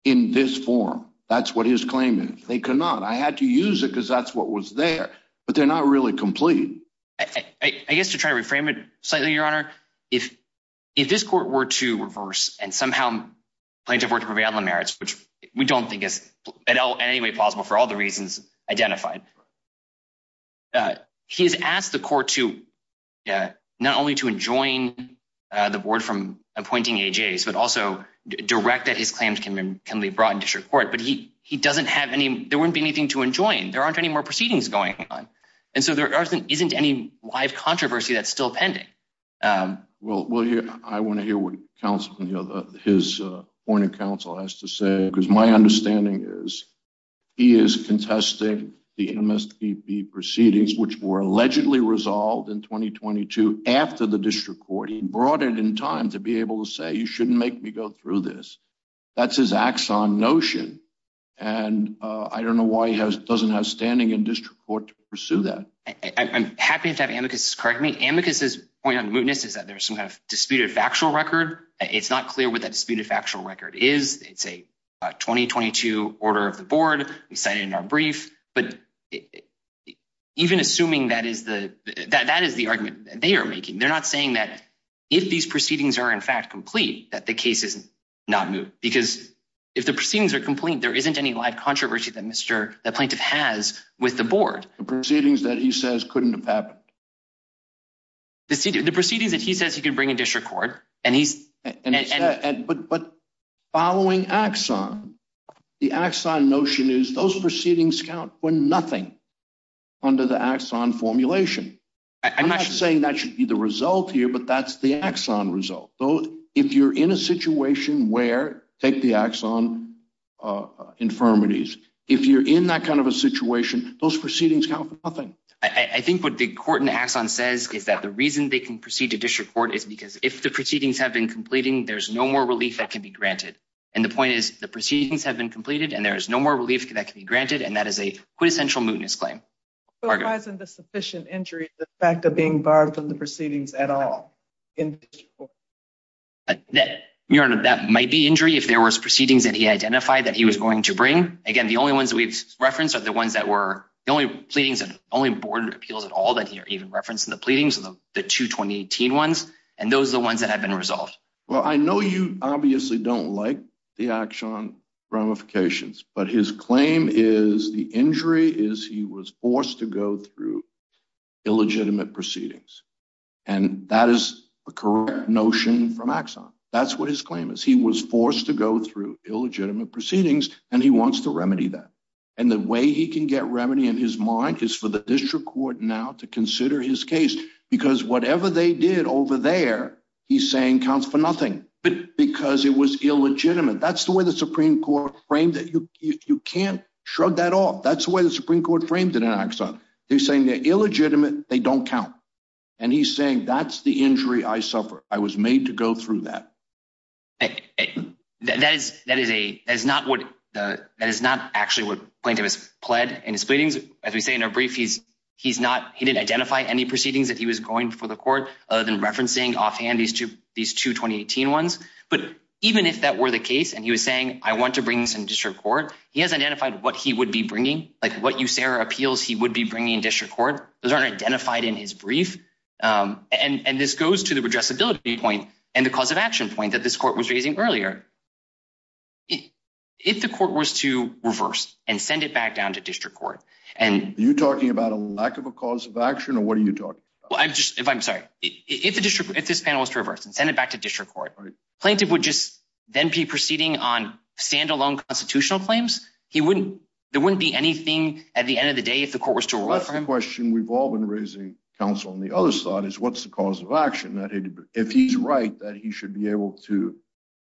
in this form. That's what his claim is. They cannot. I had to use it because that's what was there, but they're not really complete. I guess to try to reframe it slightly, Your Honor, if this court were to reverse and somehow plaintiff were to prevail on the merits, which we don't think is at all in any way plausible for all the reasons identified. He has asked the court to, not only to enjoin the board from appointing AJs, but also direct that his claims can be brought in district court. But he doesn't have any, there wouldn't be anything to enjoin. There aren't any more proceedings going on. And so there isn't any live controversy that's still pending. Well, I want to hear what counsel, his point of counsel has to say, because my understanding is he is contesting the MSPP proceedings, which were allegedly resolved in 2022 after the district court. He brought it in time to be able to say, you shouldn't make me go through this. That's his Axon notion. And I don't know why he doesn't have standing in district court to pursue that. I'm happy to have Amicus correct me. Amicus's point on mootness is that there's some kind of disputed factual record. It's not clear what that disputed factual record is. It's a 2022 order of the board. We cited in our brief, but even assuming that is the, that is the argument that they are making. They're not saying that if these proceedings are in fact complete, that the case is not moot. Because if the proceedings are complete, there isn't any live controversy that Mr. Plaintiff has with the board. The proceedings that he says couldn't have happened. The proceedings that he says he could bring in district court. And he's... But following Axon, the Axon notion is those proceedings count for nothing under the Axon formulation. I'm not saying that should be the result here, but that's the Axon result. Though, if you're in a situation where, take the Axon infirmities, if you're in that kind of a situation, those proceedings count for nothing. I think what the court in Axon says is that the reason they can proceed to district court is because if the proceedings have been completing, there's no more relief that can be granted. And the point is the proceedings have been completed and there is no more relief that can be granted. And that is a quintessential mootness claim. But why isn't the sufficient injury the fact of being barred from the proceedings at all? That might be injury if there was proceedings that he identified that he was going to bring. Again, the only ones that we've referenced are the ones that were the only pleadings and only board of appeals at all that he even referenced in the pleadings, the two 2018 ones. And those are the ones that have been resolved. Well, I know you obviously don't like the Axon ramifications, but his claim is the injury is he was forced to go through illegitimate proceedings. And that is a correct notion from Axon. That's what his claim is. He was forced to go through illegitimate proceedings and he wants to remedy that. And the way he can get remedy in his mind is for the district court now to consider his case because whatever they did over there, he's saying counts for nothing because it was illegitimate. That's the way the Supreme Court framed it. You can't shrug that off. That's the way the Supreme Court framed it in Axon. They're saying they're illegitimate. They don't count. And he's saying that's the injury I suffered. I was made to go through that. But that is not actually what plaintiff has pled in his pleadings. As we say in our brief, he didn't identify any proceedings that he was going for the court other than referencing offhand these two 2018 ones. But even if that were the case and he was saying, I want to bring this in district court, he hasn't identified what he would be bringing, like what you say or appeals he would be bringing in district court. Those aren't identified in his brief. And this goes to the addressability point and the cause of action point that this court was raising earlier. If the court was to reverse and send it back down to district court- Are you talking about a lack of a cause of action or what are you talking about? Well, I'm sorry. If this panel was to reverse and send it back to district court, plaintiff would just then be proceeding on standalone constitutional claims. There wouldn't be anything at the end of the day if the court was to- That's the question we've all been raising, counsel. And the other thought is, what's the cause of action? If he's right that he should be able to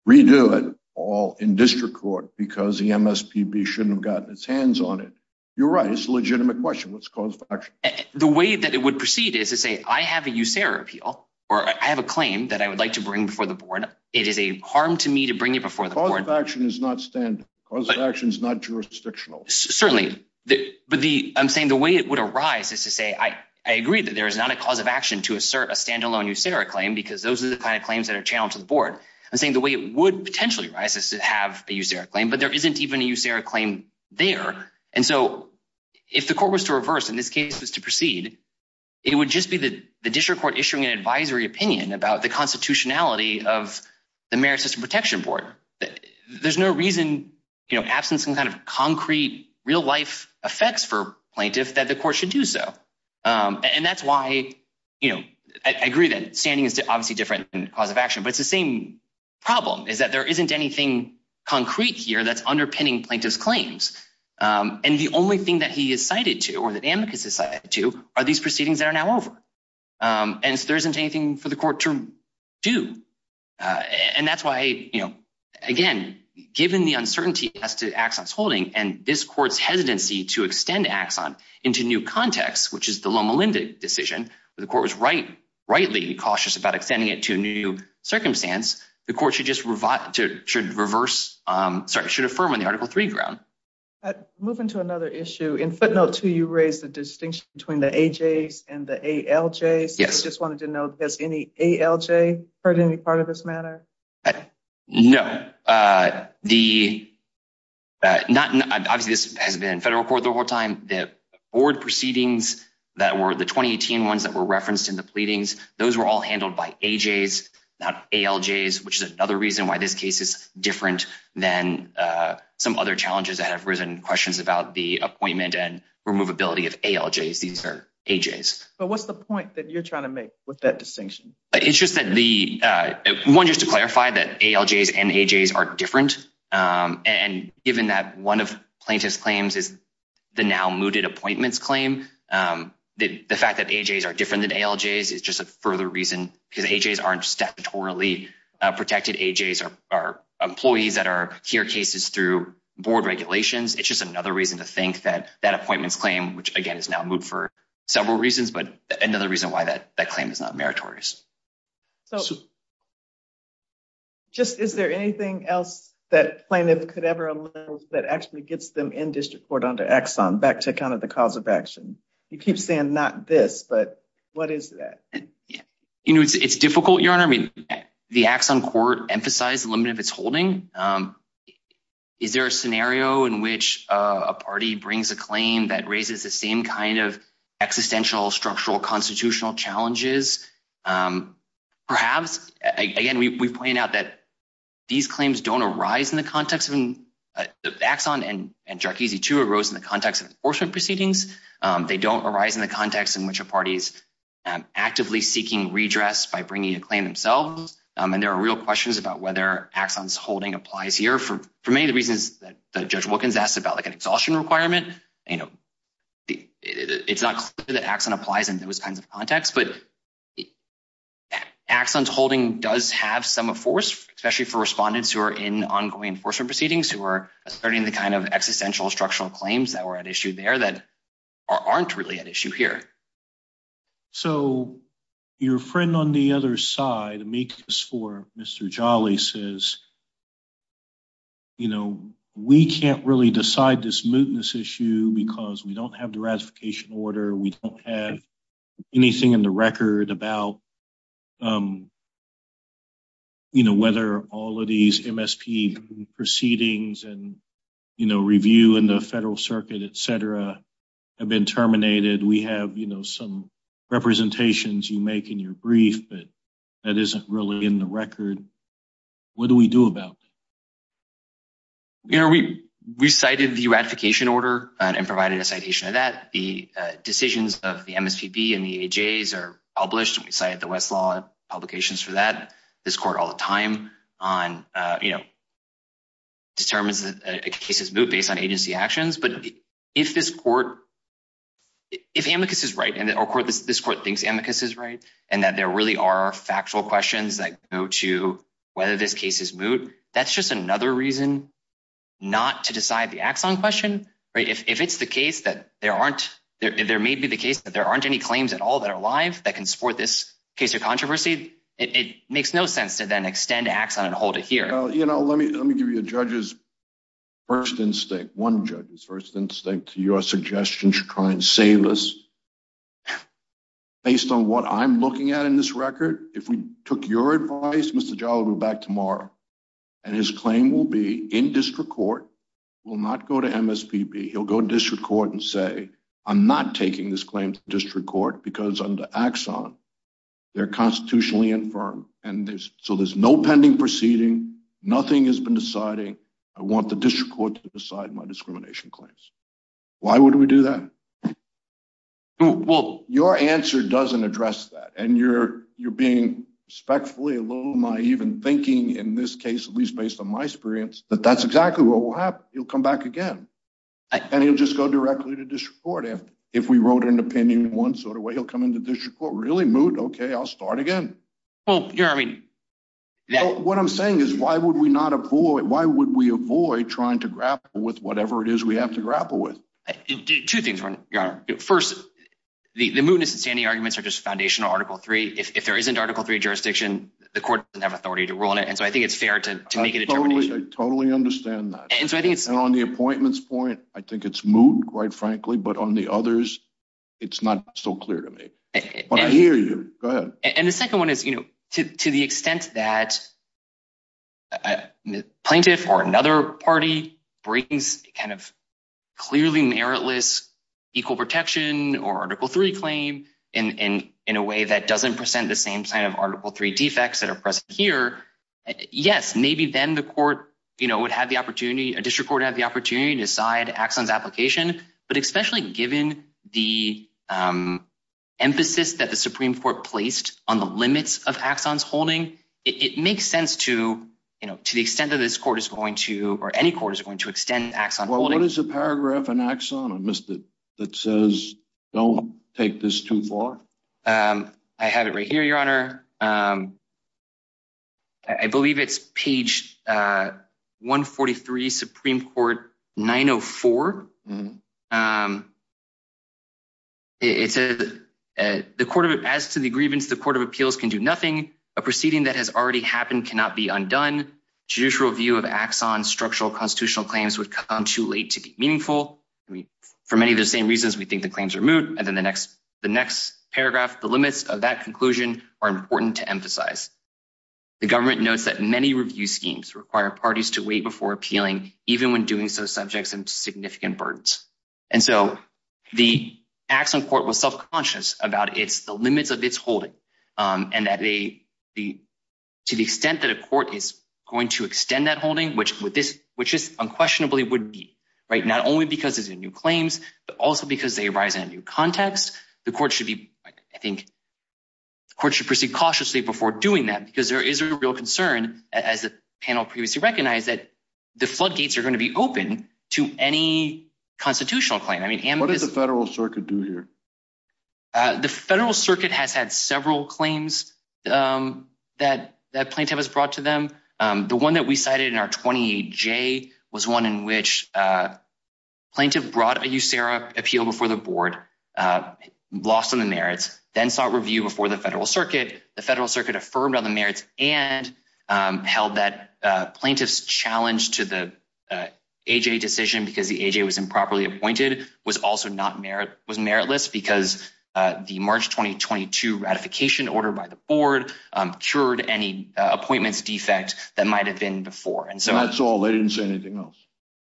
redo it all in district court because the MSPB shouldn't have gotten its hands on it. You're right. It's a legitimate question. What's the cause of action? The way that it would proceed is to say, I have a USERRA appeal, or I have a claim that I would like to bring before the board. It is a harm to me to bring it before the board. Cause of action is not standalone. Cause of action is not jurisdictional. Certainly. But I'm saying the way it would arise is to say, I agree that there is not a cause of action to assert a standalone USERRA claim because those are the kind of claims that are channeled to the board. I'm saying the way it would potentially rise is to have a USERRA claim, but there isn't even a USERRA claim there. And so if the court was to reverse, in this case, was to proceed, it would just be the district court issuing an advisory opinion about the constitutionality of the Merit System Protection Board. There's no reason, absent some kind of concrete real life effects for plaintiff that the court should do so. And that's why I agree that standing is obviously different than cause of action, but it's the same problem is that there isn't anything concrete here that's underpinning plaintiff's claims. And the only thing that he is cited to, or that AMICUS is cited to, are these proceedings that are now over. And so there isn't anything for the court to do. And that's why, again, given the uncertainty as to Axon's holding and this court's hesitancy to extend Axon into new context, which is the Loma Linda decision, where the court was rightly cautious about extending it to a new circumstance, the court should affirm on the Article III ground. Moving to another issue, in footnote two, you raised the distinction between the AJs and the ALJs. I just wanted to know, has any ALJ heard any part of this matter? No. Obviously, this has been federal court the whole time. The board proceedings, the 2018 ones that were referenced in the pleadings, those were all handled by AJs, not ALJs, which is another reason why this case is different than some other challenges that have questions about the appointment and removability of ALJs. These are AJs. But what's the point that you're trying to make with that distinction? One, just to clarify, that ALJs and AJs are different. And given that one of plaintiff's claims is the now-mooted appointments claim, the fact that AJs are different than ALJs is just a further reason because AJs aren't statutorily protected. AJs are employees that hear cases through board regulations. It's just another reason to think that that appointments claim, which, again, is now moot for several reasons, but another reason why that claim is not meritorious. Is there anything else that plaintiff could ever allow that actually gets them in district court under Exxon back to account of the cause of action? You keep saying not this, but what is that? It's difficult, Your Honor. The Exxon court emphasized the limit of holding. Is there a scenario in which a party brings a claim that raises the same kind of existential, structural, constitutional challenges? Perhaps. Again, we point out that these claims don't arise in the context of Exxon and Jarkizi II arose in the context of enforcement proceedings. They don't arise in the context in which a party is actively seeking redress by Exxon's holding applies here for many of the reasons that Judge Wilkins asked about, like an exhaustion requirement. It's not clear that Exxon applies in those kinds of contexts, but Exxon's holding does have some force, especially for respondents who are in ongoing enforcement proceedings, who are asserting the kind of existential structural claims that were at issue there that aren't really at issue here. So your friend on the other side, Amicus IV, Mr. Jolly, says, you know, we can't really decide this mootness issue because we don't have the ratification order. We don't have anything in the record about, you know, whether all of these MSP proceedings and, you know, review in the federal circuit, et cetera, have been terminated. We have, you know, some representations you make in your brief, but that isn't really in the record. What do we do about it? You know, we cited the ratification order and provided a citation of that. The decisions of the MSPB and the AJs are published. We cited the Westlaw publications for that. This court all the time on, you know, determines that a case is moot based on agency actions. But if this court, if Amicus is right, and this court thinks Amicus is right, and that there really are factual questions that go to whether this case is moot, that's just another reason not to decide the axon question, right? If it's the case that there aren't, there may be the case that there aren't any claims at all that are live that can support this case of controversy, it makes no sense to then extend axon and hold it here. Well, you know, let me give you a judge's first instinct, one judge's first instinct, to your suggestion to try and save us. Based on what I'm looking at in this record, if we took your advice, Mr. Jalabu back tomorrow, and his claim will be in district court, will not go to MSPB, he'll go to district court and say, I'm not taking this claim to district court because under axon, they're constitutionally infirm. And so there's no pending proceeding, nothing has been deciding. I want the district court to decide my discrimination claims. Why would we do that? Well, your answer doesn't address that. And you're being respectfully a little naive in thinking in this case, at least based on my experience, that that's exactly what will happen. He'll come back again. And he'll just go directly to district court if we wrote an opinion in one sort of way, he'll come into district court, really moot? Okay, I'll start again. What I'm saying is, why would we not avoid, why would we avoid trying to grapple with two things? First, the mootness and standing arguments are just foundational article three. If there isn't article three jurisdiction, the court doesn't have authority to rule on it. And so I think it's fair to make a determination. I totally understand that. And on the appointments point, I think it's moot, quite frankly, but on the others, it's not so clear to me. But I hear you. Go ahead. And the second one is, to the extent that a plaintiff or another party brings kind of clearly meritless, equal protection or article three claim in a way that doesn't present the same kind of article three defects that are present here. Yes, maybe then the court, you know, would have the opportunity, a district court have the opportunity to decide Axon's application. But especially given the emphasis that the Supreme Court placed on the limits of Axon's holding, it makes sense to, you know, to the extent that this court is going to, or any court is going to extend Axon holding. Well, what is the paragraph in Axon, I missed it, that says, don't take this too far. I have it right here, Your Honor. I believe it's page 143, Supreme Court 904. As to the grievance, the court of appeals can do nothing. A proceeding that has already happened cannot be undone. Judicial review of Axon structural constitutional claims would come too late to be meaningful. I mean, for many of the same reasons, we think the claims are moot. And then the next paragraph, the limits of that conclusion are important to emphasize. The government notes that many review schemes require parties to wait before appealing, even when doing so subjects them to significant burdens. And so the Axon court was self-conscious about the limits of its holding, and that to the extent that a which just unquestionably would be, right, not only because it's in new claims, but also because they arise in a new context. The court should be, I think, the court should proceed cautiously before doing that, because there is a real concern, as the panel previously recognized, that the floodgates are going to be open to any constitutional claim. I mean, what does the federal circuit do here? The federal circuit has had several claims that plaintiff has brought to them. The one that we cited in our 28J was one in which plaintiff brought a USERRA appeal before the board, lost on the merits, then sought review before the federal circuit. The federal circuit affirmed on the merits and held that plaintiff's challenge to the AJ decision, because the AJ was improperly appointed, was also not merit, was meritless, because the March 2022 ratification order by the board cured any appointments defect that might have been before. And so that's all, they didn't say anything else.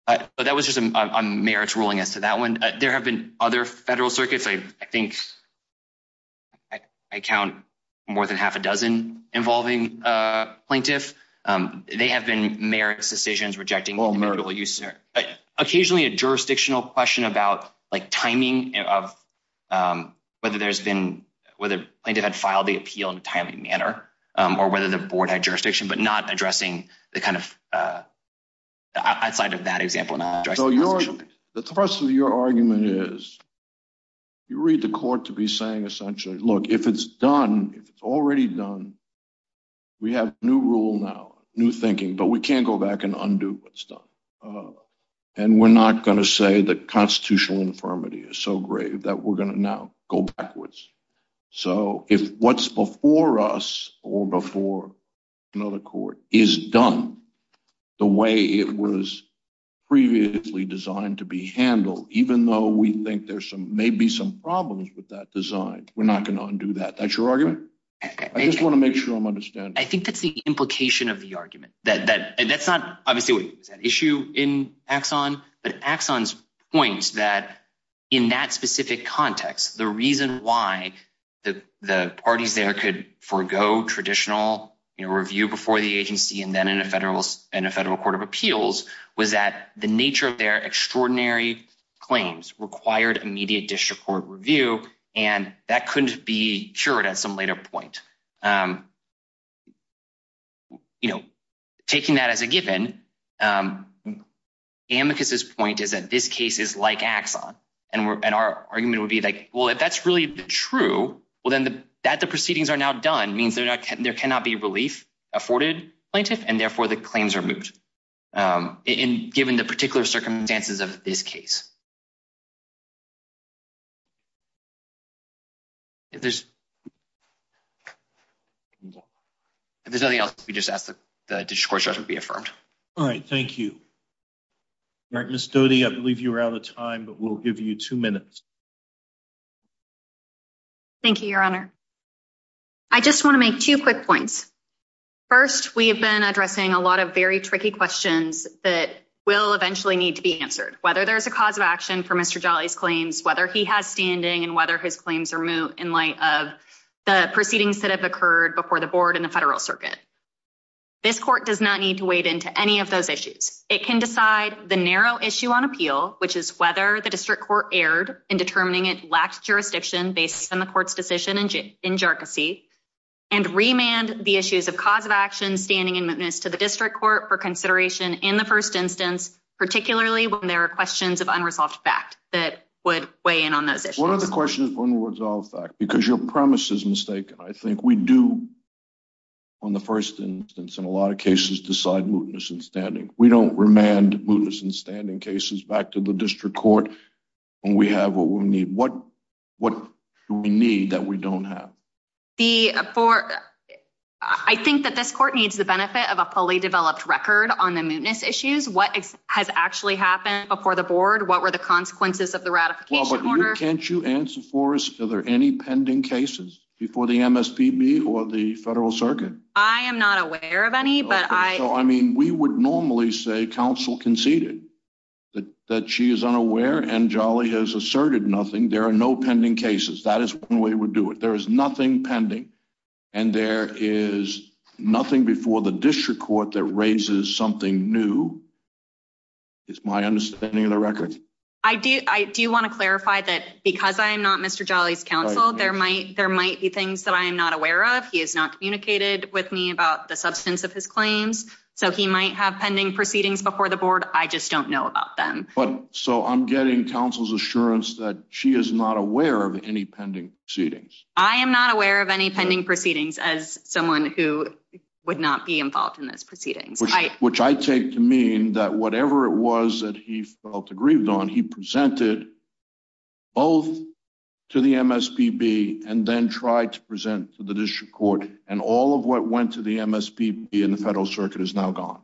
But that was just a merits ruling as to that one. There have been other federal circuits. I think I count more than half a dozen involving plaintiff. They have been merits decisions rejecting individual USERRA. Occasionally a jurisdictional question about timing of whether there's been, whether plaintiff had filed the appeal in a timely manner, or whether the board had jurisdiction, but not addressing the kind of, outside of that example. The thrust of your argument is, you read the court to be saying essentially, look, if it's done, if it's already done, we have new rule now, new thinking, but we can't go back and undo what's done. We're not going to say that constitutional infirmity is so grave that we're going to now go backwards. So if what's before us or before another court is done the way it was previously designed to be handled, even though we think there's some, maybe some problems with that design, we're not going to undo that. That's your argument? I just want to make sure I'm understanding. I think that's the implication of the argument. That's not obviously an issue in Axon, but Axon's point that in that specific context, the reason why the parties there could forego traditional review before the agency and then in a federal court of appeals was that the nature of their extraordinary claims required immediate district court review, and that amicus's point is that this case is like Axon and we're, and our argument would be like, well, if that's really true, well, then the, that the proceedings are now done means they're not, there cannot be relief afforded plaintiff. And therefore the claims are moved. Um, and given the particular circumstances of this case, if there's, if there's nothing else, we just ask that the district court judge would be affirmed. All right. Thank you. Right. Ms. Doty, I believe you were out of time, but we'll give you two minutes. Thank you, your honor. I just want to make two quick points. First, we have been addressing a lot of very tricky questions that will eventually need to be answered. Whether there's a cause of action for Mr. Jolly's claims, whether he has standing and whether his claims are moot in light of the proceedings that have occurred before the board and the federal circuit, this court does not need to wade into any of those issues. It can decide the narrow issue on appeal, which is whether the district court erred in determining it lacked jurisdiction based on the court's decision in Jersey and remand the issues of cause of action, standing and mootness to the district court for consideration in the first instance, particularly when there are questions of unresolved fact that would weigh in on those issues. Because your premise is mistaken. I think we do on the first instance in a lot of cases decide mootness and standing. We don't remand mootness and standing cases back to the district court when we have what we need. What do we need that we don't have? I think that this court needs the benefit of a fully developed record on the mootness issues. What has actually happened before the board? What were the consequences of the federal circuit? I am not aware of any, but I mean, we would normally say council conceded that she is unaware and jolly has asserted nothing. There are no pending cases. That is when we would do it. There is nothing pending and there is nothing before the district court that raises something new. It's my understanding of the record. I do. I do want to clarify that because I am not Mr Jolly's counsel, there might there might be things that I am not aware of. He has not communicated with me about the substance of his claims. So he might have pending proceedings before the board. I just don't know about them. But so I'm getting counsel's assurance that she is not aware of any pending proceedings. I am not aware of any pending proceedings as someone who would not be involved in those proceedings, which I take to mean that whatever it was that he felt he presented both to the MSPB and then tried to present to the district court and all of what went to the MSPB in the federal circuit is now gone.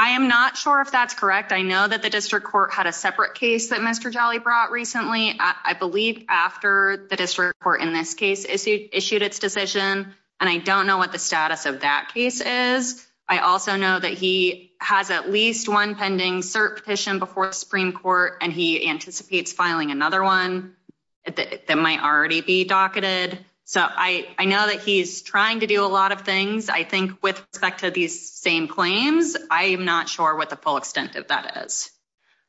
I am not sure if that's correct. I know that the district court had a separate case that Mr Jolly brought recently. I believe after the district court in this case issued issued its decision and I don't know what the status of that case is. I also know that he has at least one pending cert petition before the Supreme Court and he anticipates filing another one that might already be docketed. So I know that he's trying to do a lot of things. I think with respect to these same claims, I am not sure what the full extent of that is.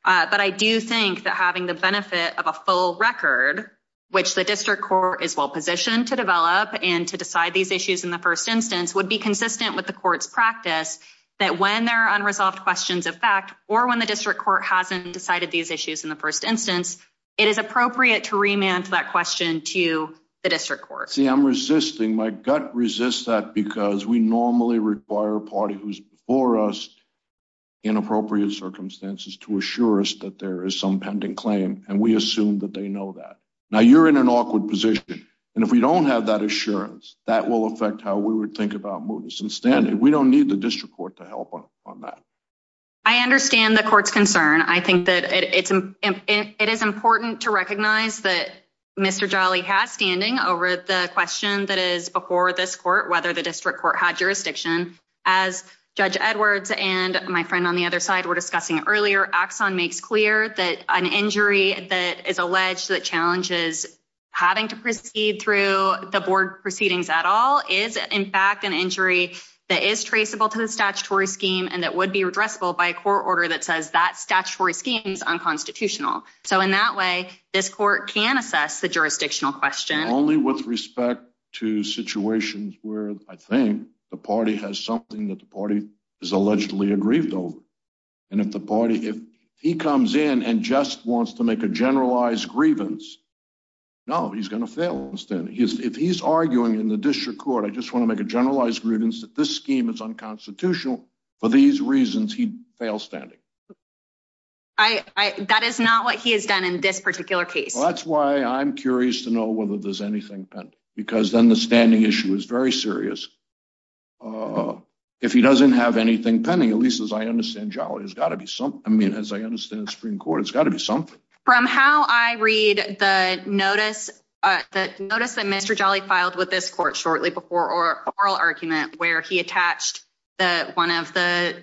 But I do think that having the benefit of a full record, which the district court is well positioned to develop and to decide these issues in the first instance, would be consistent with the court's practice that when there are unresolved questions of fact or when the district court hasn't decided these issues in the first instance, it is appropriate to remand that question to the district court. See, I'm resisting my gut resists that because we normally require a party who's before us in appropriate circumstances to assure us that there is some pending claim and we assume that they know that. Now you're in an awkward position and if we don't have that assurance, that will affect how we would think about movements and standing. We don't need the district court to help on that. I understand the court's concern. I think that it is important to recognize that Mr. Jolly has standing over the question that is before this court whether the district court had jurisdiction as Judge Edwards and my friend on the other side were discussing earlier. Axon makes clear that an injury that is alleged that challenges having to proceed through the board proceedings at all is in fact an injury that is traceable to the statutory scheme and that would be addressable by a court order that says that statutory scheme is unconstitutional. So in that way, this court can assess the jurisdictional question only with respect to situations where I if he comes in and just wants to make a generalized grievance, no he's going to fail. If he's arguing in the district court, I just want to make a generalized grievance that this scheme is unconstitutional. For these reasons, he'd fail standing. That is not what he has done in this particular case. That's why I'm curious to know whether there's anything pending because then the standing issue is very serious. If he doesn't have anything pending, at least as I understand the Supreme Court, it's got to be something. From how I read the notice that Mr. Jolly filed with this court shortly before oral argument where he attached one of the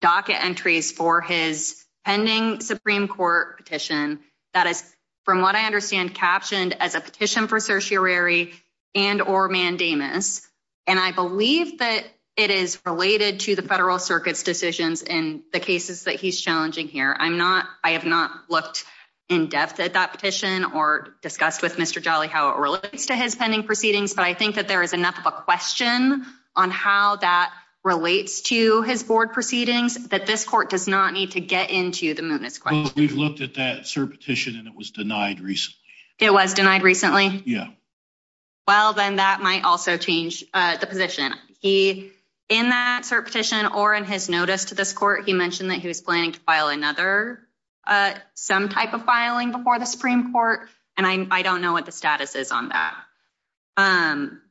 docket entries for his pending Supreme Court petition that is from what I understand captioned as a petition for certiorari and or mandamus and I believe that it is related to the federal circuit's decisions in the cases that he's challenging here. I have not looked in depth at that petition or discussed with Mr. Jolly how it relates to his pending proceedings, but I think that there is enough of a question on how that relates to his board proceedings that this court does not need to get into the mootness question. We've looked at that cert petition and it was denied recently. It was denied recently? Yeah. Well, then that might also change the position. In that cert petition or in his notice to this court, he mentioned that he was planning to file another some type of filing before the Supreme Court and I don't know what the status is on that.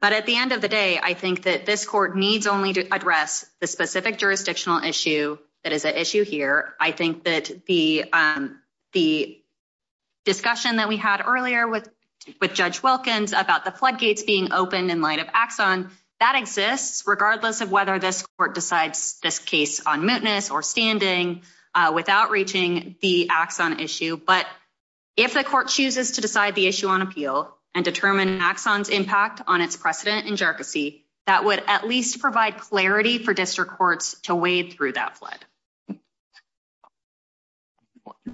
But at the end of the day, I think that this court needs only to address the specific jurisdictional issue that is an issue here. I think that the discussion that we had earlier with Judge Wilkins about the floodgates being open in light of Axon, that exists regardless of whether this court decides this case on mootness or standing without reaching the Axon issue. But if the court chooses to decide the issue on appeal and determine Axon's impact on its precedent in jerky, that would at least provide clarity for district courts to wade through that flood. You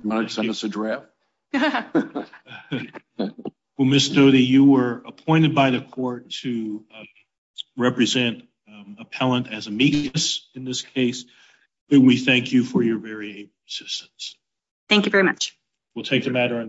want to send us a draft? Well, Ms. Stote, you were appointed by the court to represent appellant as amicus in this case. We thank you for your very assistance. Thank you very much. We'll take the matter on.